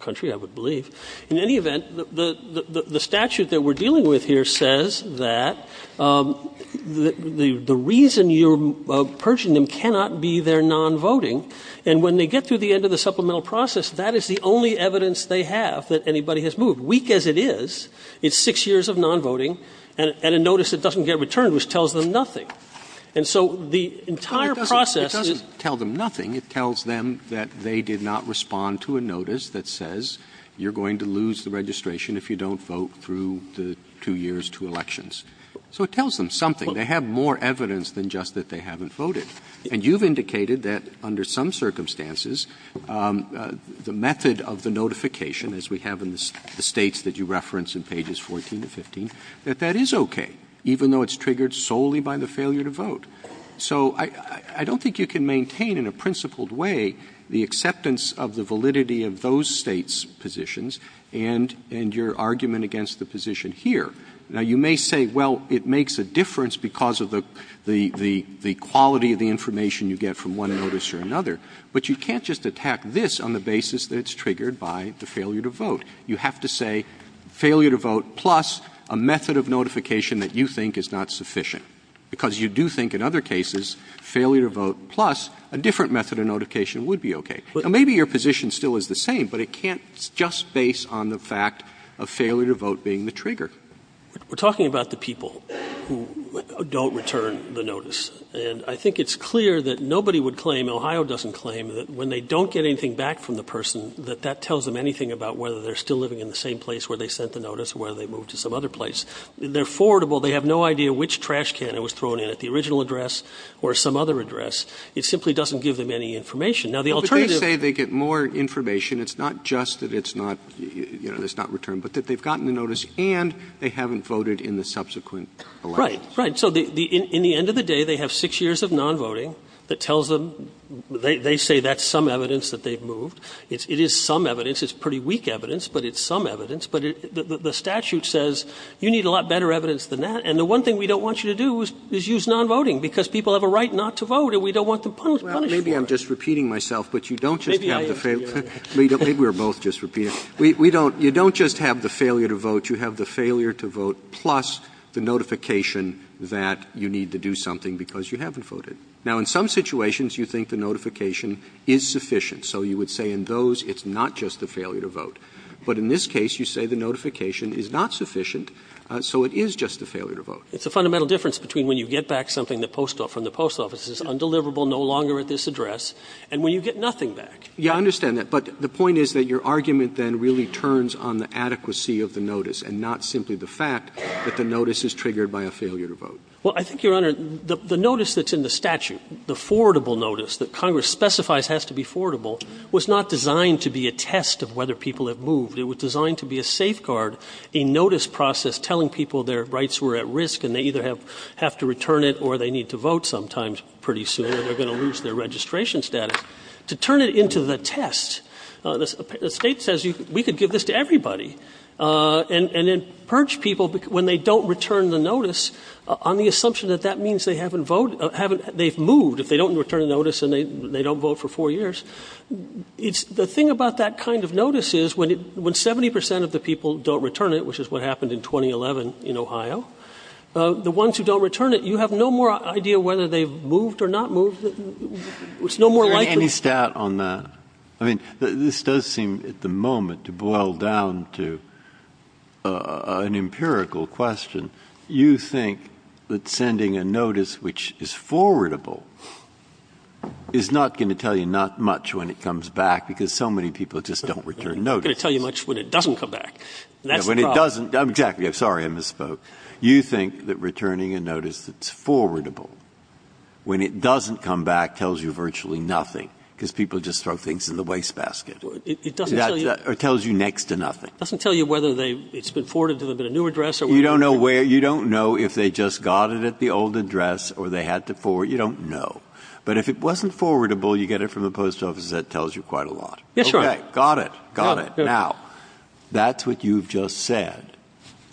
country, I would believe. In any event, the statute that we're dealing with here says that the reason you're purging them cannot be their non-voting. And when they get through the end of the supplemental process, that is the only evidence they have that anybody has moved. Weak as it is, it's six years of non-voting, and a notice that doesn't get returned which tells them nothing. And so the entire process is- Well, it doesn't tell them nothing. It tells them that they did not respond to a notice that says, you're going to lose the registration if you don't vote through the two years, two elections. So it tells them something. They have more evidence than just that they haven't voted. And you've indicated that, under some circumstances, the method of the notification, as we have in the states that you reference in pages 14 to 15, that that is OK, even though it's triggered solely by the failure to vote. So I don't think you can maintain in a principled way the acceptance of the validity of those States' positions and your argument against the position here. Now, you may say, well, it makes a difference because of the quality of the information you get from one notice or another, but you can't just attack this on the basis that it's triggered by the failure to vote. You have to say failure to vote plus a method of notification that you think is not sufficient, because you do think, in other cases, failure to vote plus a different method of notification would be OK. Now, maybe your position still is the same, but it can't just base on the fact of failure to vote being the trigger. We're talking about the people who don't return the notice. And I think it's clear that nobody would claim, Ohio doesn't claim, that when they don't get anything back from the person, that that tells them anything about whether they're still living in the same place where they sent the notice or whether they moved to some other place. They're forwardable. They have no idea which trash can it was thrown in at, the original address or some other address. It simply doesn't give them any information. Now, the alternative to this is that they get more information. It's not just that it's not, you know, it's not returned, but that they've gotten the notice and they haven't voted in the subsequent elections. Right. Right. So in the end of the day, they have 6 years of nonvoting that tells them, they say that's some evidence that they've moved. It is some evidence. It's pretty weak evidence, but it's some evidence. But the statute says you need a lot better evidence than that, and the one thing we don't want you to do is use nonvoting, because people have a right not to vote and we don't want them punished for it. Roberts Well, maybe I'm just repeating myself, but you don't just have the failure to vote. You have the failure to vote plus the notification that you need to do something because you haven't voted. Now, in some situations, you think the notification is sufficient. So you would say in those, it's not just the failure to vote. But in this case, you say the notification is not sufficient, so it is just the failure to vote. It's a fundamental difference between when you get back something from the post office that is undeliverable, no longer at this address, and when you get nothing back. Yeah, I understand that. But the point is that your argument then really turns on the adequacy of the notice and not simply the fact that the notice is triggered by a failure to vote. Well, I think, Your Honor, the notice that's in the statute, the forwardable notice that Congress specifies has to be forwardable, was not designed to be a test of whether people have moved. It was designed to be a safeguard, a notice process telling people their rights were at risk, and they either have to return it or they need to vote sometimes pretty soon, or they're going to lose their registration status. To turn it into the test, the state says we could give this to everybody and then purge people when they don't return the notice on the assumption that that means they haven't moved if they don't return a notice and they don't vote for four years. It's the thing about that kind of notice is when 70 percent of the people don't return it, which is what happened in 2011 in Ohio, the ones who don't return it, you have no more idea whether they've moved or not moved. It's no more likely. Any stat on that? I mean, this does seem at the moment to boil down to an empirical question. You think that sending a notice which is forwardable is not going to tell you not much when it comes back because so many people just don't return notices. It's not going to tell you much when it doesn't come back. That's the problem. When it doesn't, exactly. Sorry, I misspoke. You think that returning a notice that's forwardable, when it doesn't come back, tells you virtually nothing because people just throw things in the wastebasket. It doesn't tell you. It tells you next to nothing. It doesn't tell you whether it's been forwarded to a new address. You don't know where. You don't know if they just got it at the old address or they had to forward. You don't know. But if it wasn't forwardable, you get it from the post office, that tells you quite a lot. Yes, Your Honor. Okay. Got it. Got it. Now, that's what you've just said.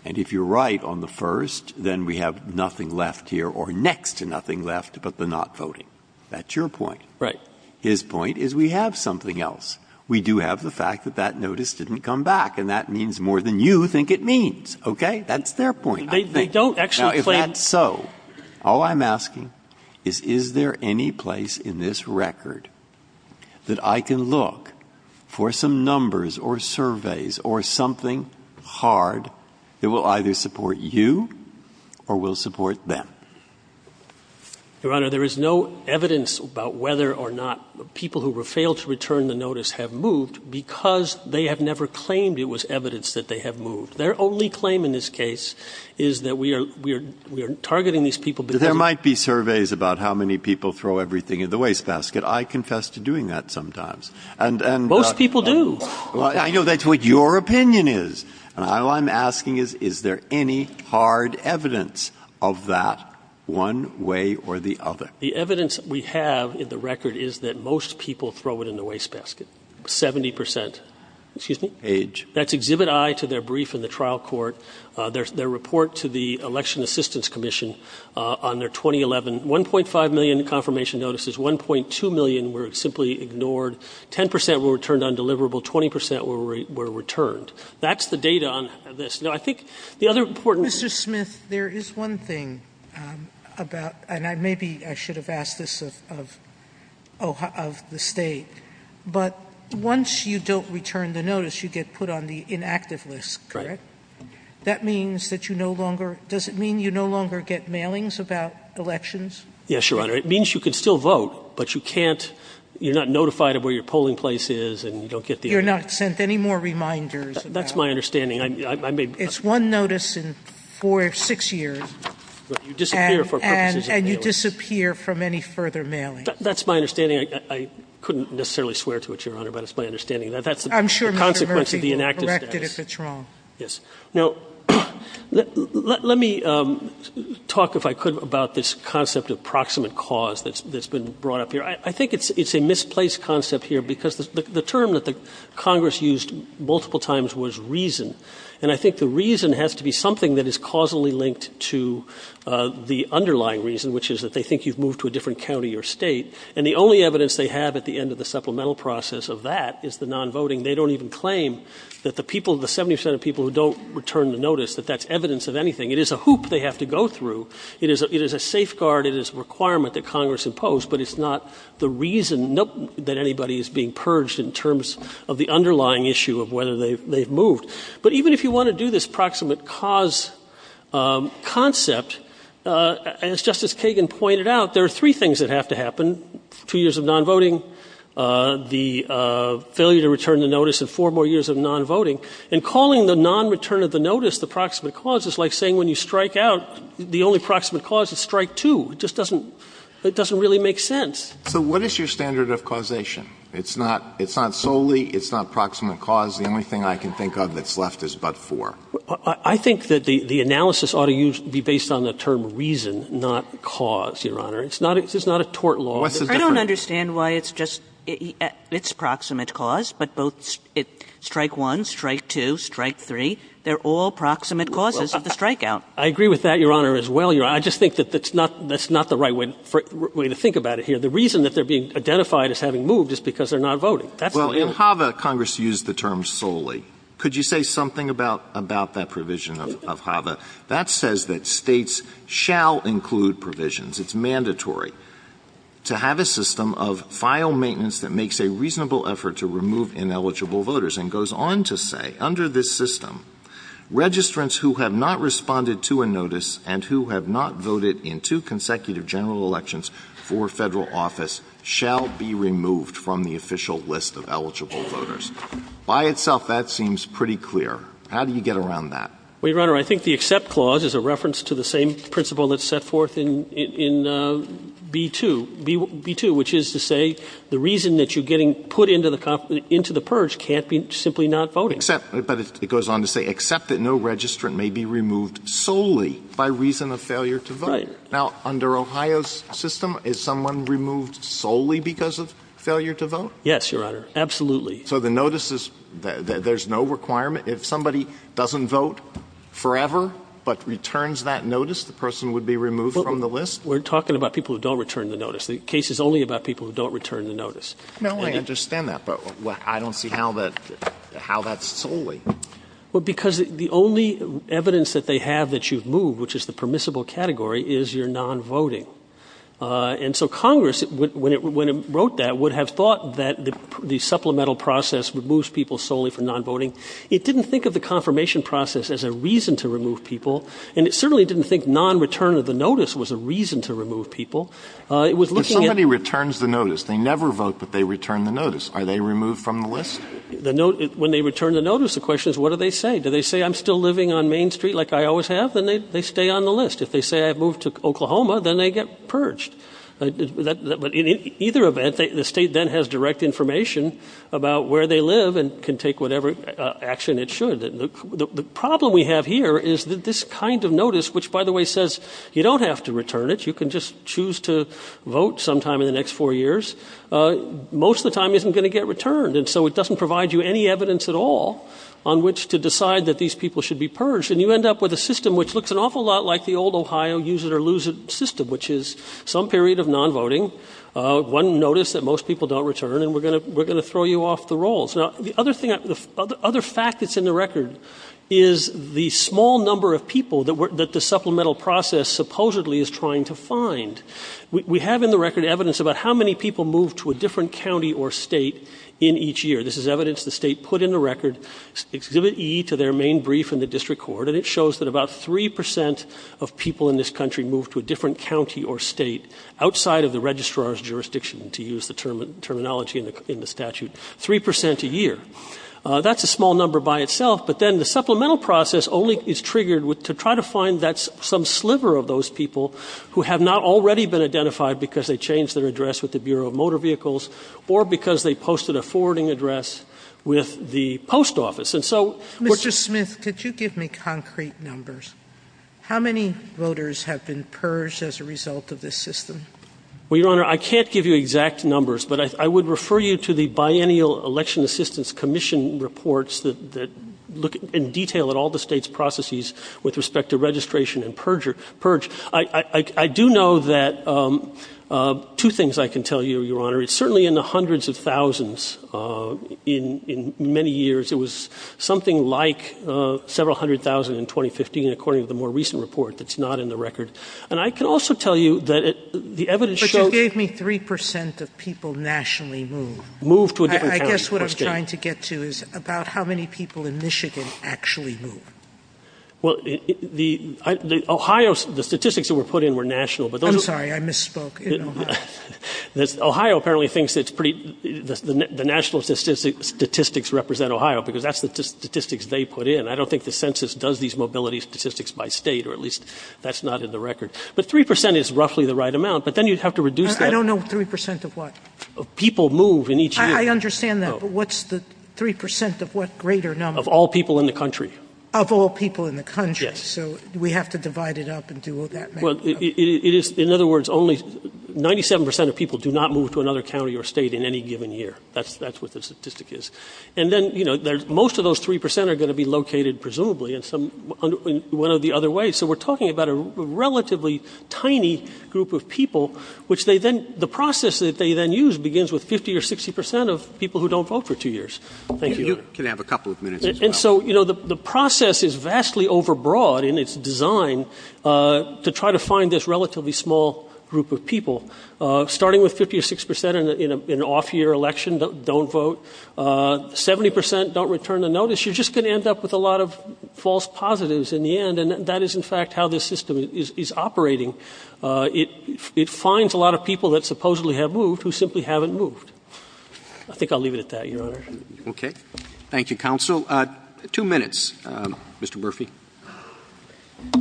And if you're right on the first, then we have nothing left here or next to nothing left but the not voting. That's your point. Right. His point is we have something else. We do have the fact that that notice didn't come back, and that means more than you think it means. Okay? That's their point. They don't actually claim Now, if that's so, all I'm asking is, is there any place in this record that I can look for some numbers or surveys or something hard that will either support you or will support them? Your Honor, there is no evidence about whether or not people who failed to return the notice have moved because they have never claimed it was evidence that they have moved. Their only claim in this case is that we are targeting these people because there might be surveys about how many people throw everything in the wastebasket. I confess to doing that sometimes. And most people do. I know that's what your opinion is. And all I'm asking is, is there any hard evidence of that one way or the other? The evidence we have in the record is that most people throw it in the wastebasket. 70%, excuse me. Age. That's exhibit I to their brief in the trial court. Their report to the election assistance commission on their 2011, 1.5 million confirmation notices. 1.2 million were simply ignored. 10% were returned undeliverable. 20% were returned. That's the data on this. Now, I think the other important- Mr. Smith, there is one thing about, and maybe I should have asked this of the state. But once you don't return the notice, you get put on the inactive list, correct? That means that you no longer, does it mean you no longer get mailings about elections? Yes, Your Honor. It means you can still vote, but you can't, you're not notified of where your polling place is and you don't get the- You're not sent any more reminders about- That's my understanding. I may- It's one notice in four or six years. But you disappear for purposes of mailings. And you disappear from any further mailing. That's my understanding. I couldn't necessarily swear to it, Your Honor, but it's my understanding that that's the consequence of the inactive status. I'm sure, Mr. Murphy, you'll correct it if it's wrong. Yes. Now, let me talk, if I could, about this concept of proximate cause that's been brought up here. I think it's a misplaced concept here because the term that the Congress used multiple times was reason. And I think the reason has to be something that is causally linked to the underlying reason, which is that they think you've moved to a different county or state. And the only evidence they have at the end of the supplemental process of that is the non-voting. They don't even claim that the people, the 70% of people who don't return the notice, that that's evidence of anything. It is a hoop they have to go through. It is a safeguard. It is a requirement that Congress imposed. But it's not the reason that anybody is being purged in terms of the underlying issue of whether they've moved. But even if you want to do this proximate cause concept, as Justice Kagan pointed out, there are three things that have to happen, two years of non-voting, the failure to return the notice, and four more years of non-voting. And calling the non-return of the notice the proximate cause is like saying when you strike out, the only proximate cause is strike two. It just doesn't, it doesn't really make sense. So what is your standard of causation? It's not, it's not solely, it's not proximate cause. The only thing I can think of that's left is but four. I think that the analysis ought to be based on the term reason, not cause, Your Honor. It's not a tort law. I don't understand why it's just, it's proximate cause, but both strike one, strike two, strike three, they're all proximate causes of the strikeout. I agree with that, Your Honor, as well. I just think that that's not the right way to think about it here. The reason that they're being identified as having moved is because they're not voting. That's the reason. Well, in Hava, Congress used the term solely. Could you say something about that provision of Hava? That says that states shall include provisions. It's mandatory to have a system of file maintenance that makes a reasonable effort to remove ineligible voters. And goes on to say, under this system, registrants who have not responded to a notice and who have not voted in two consecutive general elections for federal office shall be removed from the official list of eligible voters. By itself, that seems pretty clear. How do you get around that? Well, Your Honor, I think the accept clause is a reference to the same principle that's set forth in B2. B2, which is to say, the reason that you're getting put into the purge can't be simply not voting. Except, but it goes on to say, except that no registrant may be removed solely by reason of failure to vote. Right. Now, under Ohio's system, is someone removed solely because of failure to vote? Yes, Your Honor, absolutely. So the notice is, there's no requirement? If somebody doesn't vote forever, but returns that notice, the person would be removed from the list? We're talking about people who don't return the notice. The case is only about people who don't return the notice. No, I understand that, but I don't see how that's solely. Well, because the only evidence that they have that you've moved, which is the permissible category, is your non-voting. And so Congress, when it wrote that, would have thought that the supplemental process removes people solely for non-voting. It didn't think of the confirmation process as a reason to remove people. And it certainly didn't think non-return of the notice was a reason to remove people. It was looking at- If somebody returns the notice, they never vote, but they return the notice. Are they removed from the list? When they return the notice, the question is, what do they say? Do they say, I'm still living on Main Street like I always have? Then they stay on the list. If they say, I've moved to Oklahoma, then they get purged. But in either event, the state then has direct information about where they live and can take whatever action it should. The problem we have here is that this kind of notice, which, by the way, says you don't have to return it. You can just choose to vote sometime in the next four years, most of the time isn't going to get returned. And so it doesn't provide you any evidence at all on which to decide that these people should be purged. And you end up with a system which looks an awful lot like the old Ohio use it or lose it system, which is some period of non-voting. One notice that most people don't return, and we're going to throw you off the rolls. Now, the other fact that's in the record is the small number of people that the supplemental process supposedly is trying to find. We have in the record evidence about how many people move to a different county or state in each year. This is evidence the state put in the record, exhibit E to their main brief in the district court, and it shows that about 3% of people in this country move to a different county or state outside of the registrar's jurisdiction, to use the terminology in the statute, 3% a year. That's a small number by itself, but then the supplemental process only is triggered to try to find some sliver of those people who have not already been identified because they changed their address with the Bureau of Motor Vehicles. Or because they posted a forwarding address with the post office. And so- Mr. Smith, could you give me concrete numbers? How many voters have been purged as a result of this system? Well, Your Honor, I can't give you exact numbers, but I would refer you to the Biennial Election Assistance Commission reports that look in detail at all the state's processes with respect to registration and purge. I do know that two things I can tell you, Your Honor. It's certainly in the hundreds of thousands in many years. It was something like several hundred thousand in 2015, according to the more recent report that's not in the record. And I can also tell you that the evidence shows- But you gave me 3% of people nationally move. Move to a different county or state. I guess what I'm trying to get to is about how many people in Michigan actually move. Well, the Ohio, the statistics that were put in were national, but those- I'm sorry, I misspoke in Ohio. Ohio apparently thinks it's pretty, the national statistics represent Ohio, because that's the statistics they put in. I don't think the census does these mobility statistics by state, or at least that's not in the record. But 3% is roughly the right amount, but then you'd have to reduce that- I don't know 3% of what? People move in each year. I understand that, but what's the 3% of what greater number? Of all people in the country. Of all people in the country. Yes. So we have to divide it up and do that. Well, it is, in other words, only 97% of people do not move to another county or state in any given year. That's what the statistic is. And then, most of those 3% are going to be located, presumably, in one of the other ways. So we're talking about a relatively tiny group of people, which they then, the process that they then use begins with 50 or 60% of people who don't vote for two years. Thank you. Can I have a couple of minutes as well? And so, you know, the process is vastly overbroad in its design to try to find this relatively small group of people. Starting with 50 or 60% in an off-year election that don't vote, 70% don't return a notice. You're just going to end up with a lot of false positives in the end. And that is, in fact, how this system is operating. It finds a lot of people that supposedly have moved who simply haven't moved. I think I'll leave it at that, Your Honor. Roberts. Thank you, counsel. Two minutes, Mr. Murphy.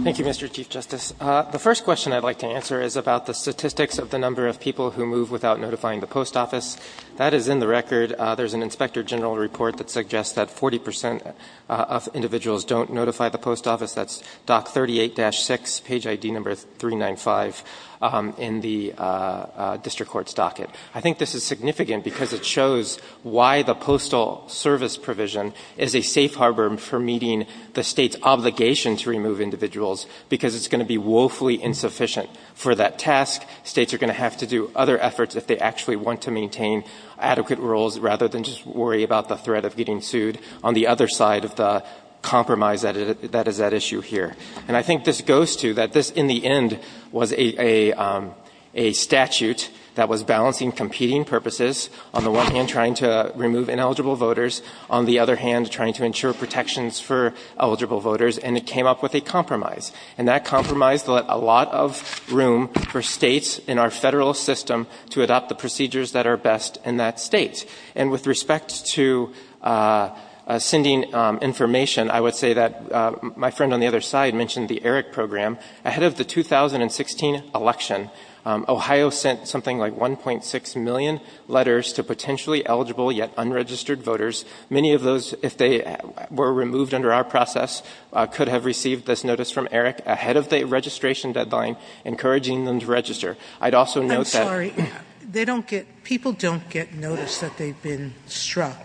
Thank you, Mr. Chief Justice. The first question I'd like to answer is about the statistics of the number of people who move without notifying the post office. That is in the record. There's an Inspector General report that suggests that 40% of individuals don't notify the post office. I think this is significant because it shows why the postal service provision is a safe harbor for meeting the state's obligation to remove individuals. Because it's going to be woefully insufficient for that task. States are going to have to do other efforts if they actually want to maintain adequate rules, rather than just worry about the threat of getting sued on the other side of the compromise that is at issue here. And I think this goes to that this, in the end, was a statute that was balancing competing purposes. On the one hand, trying to remove ineligible voters. On the other hand, trying to ensure protections for eligible voters. And it came up with a compromise. And that compromise left a lot of room for states in our Federal system to adopt the procedures that are best in that state. And with respect to sending information, I would say that my friend on the other side mentioned the ERIC program. Ahead of the 2016 election, Ohio sent something like 1.6 million letters to potentially eligible yet unregistered voters. Many of those, if they were removed under our process, could have received this notice from ERIC ahead of the registration deadline, encouraging them to register. I'd also note that- They've been struck.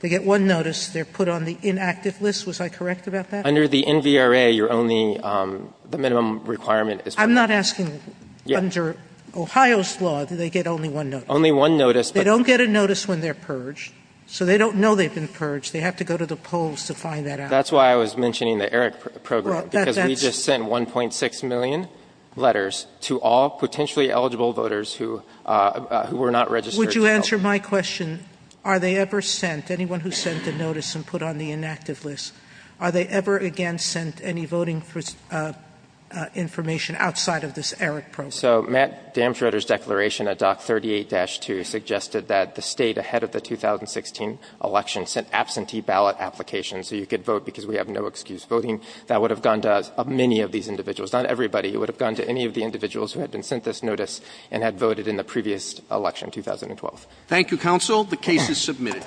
They get one notice, they're put on the inactive list, was I correct about that? Under the NVRA, you're only, the minimum requirement is- I'm not asking under Ohio's law, do they get only one notice? Only one notice, but- They don't get a notice when they're purged, so they don't know they've been purged. They have to go to the polls to find that out. That's why I was mentioning the ERIC program, because we just sent 1.6 million letters to all potentially eligible voters who were not registered. Would you answer my question? Are they ever sent, anyone who sent a notice and put on the inactive list, are they ever again sent any voting information outside of this ERIC program? So Matt Damschreuder's declaration at Doc 38-2 suggested that the state ahead of the 2016 election sent absentee ballot applications, so you could vote because we have no excuse. Voting, that would have gone to many of these individuals. Not everybody. It would have gone to any of the individuals who had been sent this notice and had voted in the previous election, 2012. Thank you, counsel. The case is submitted.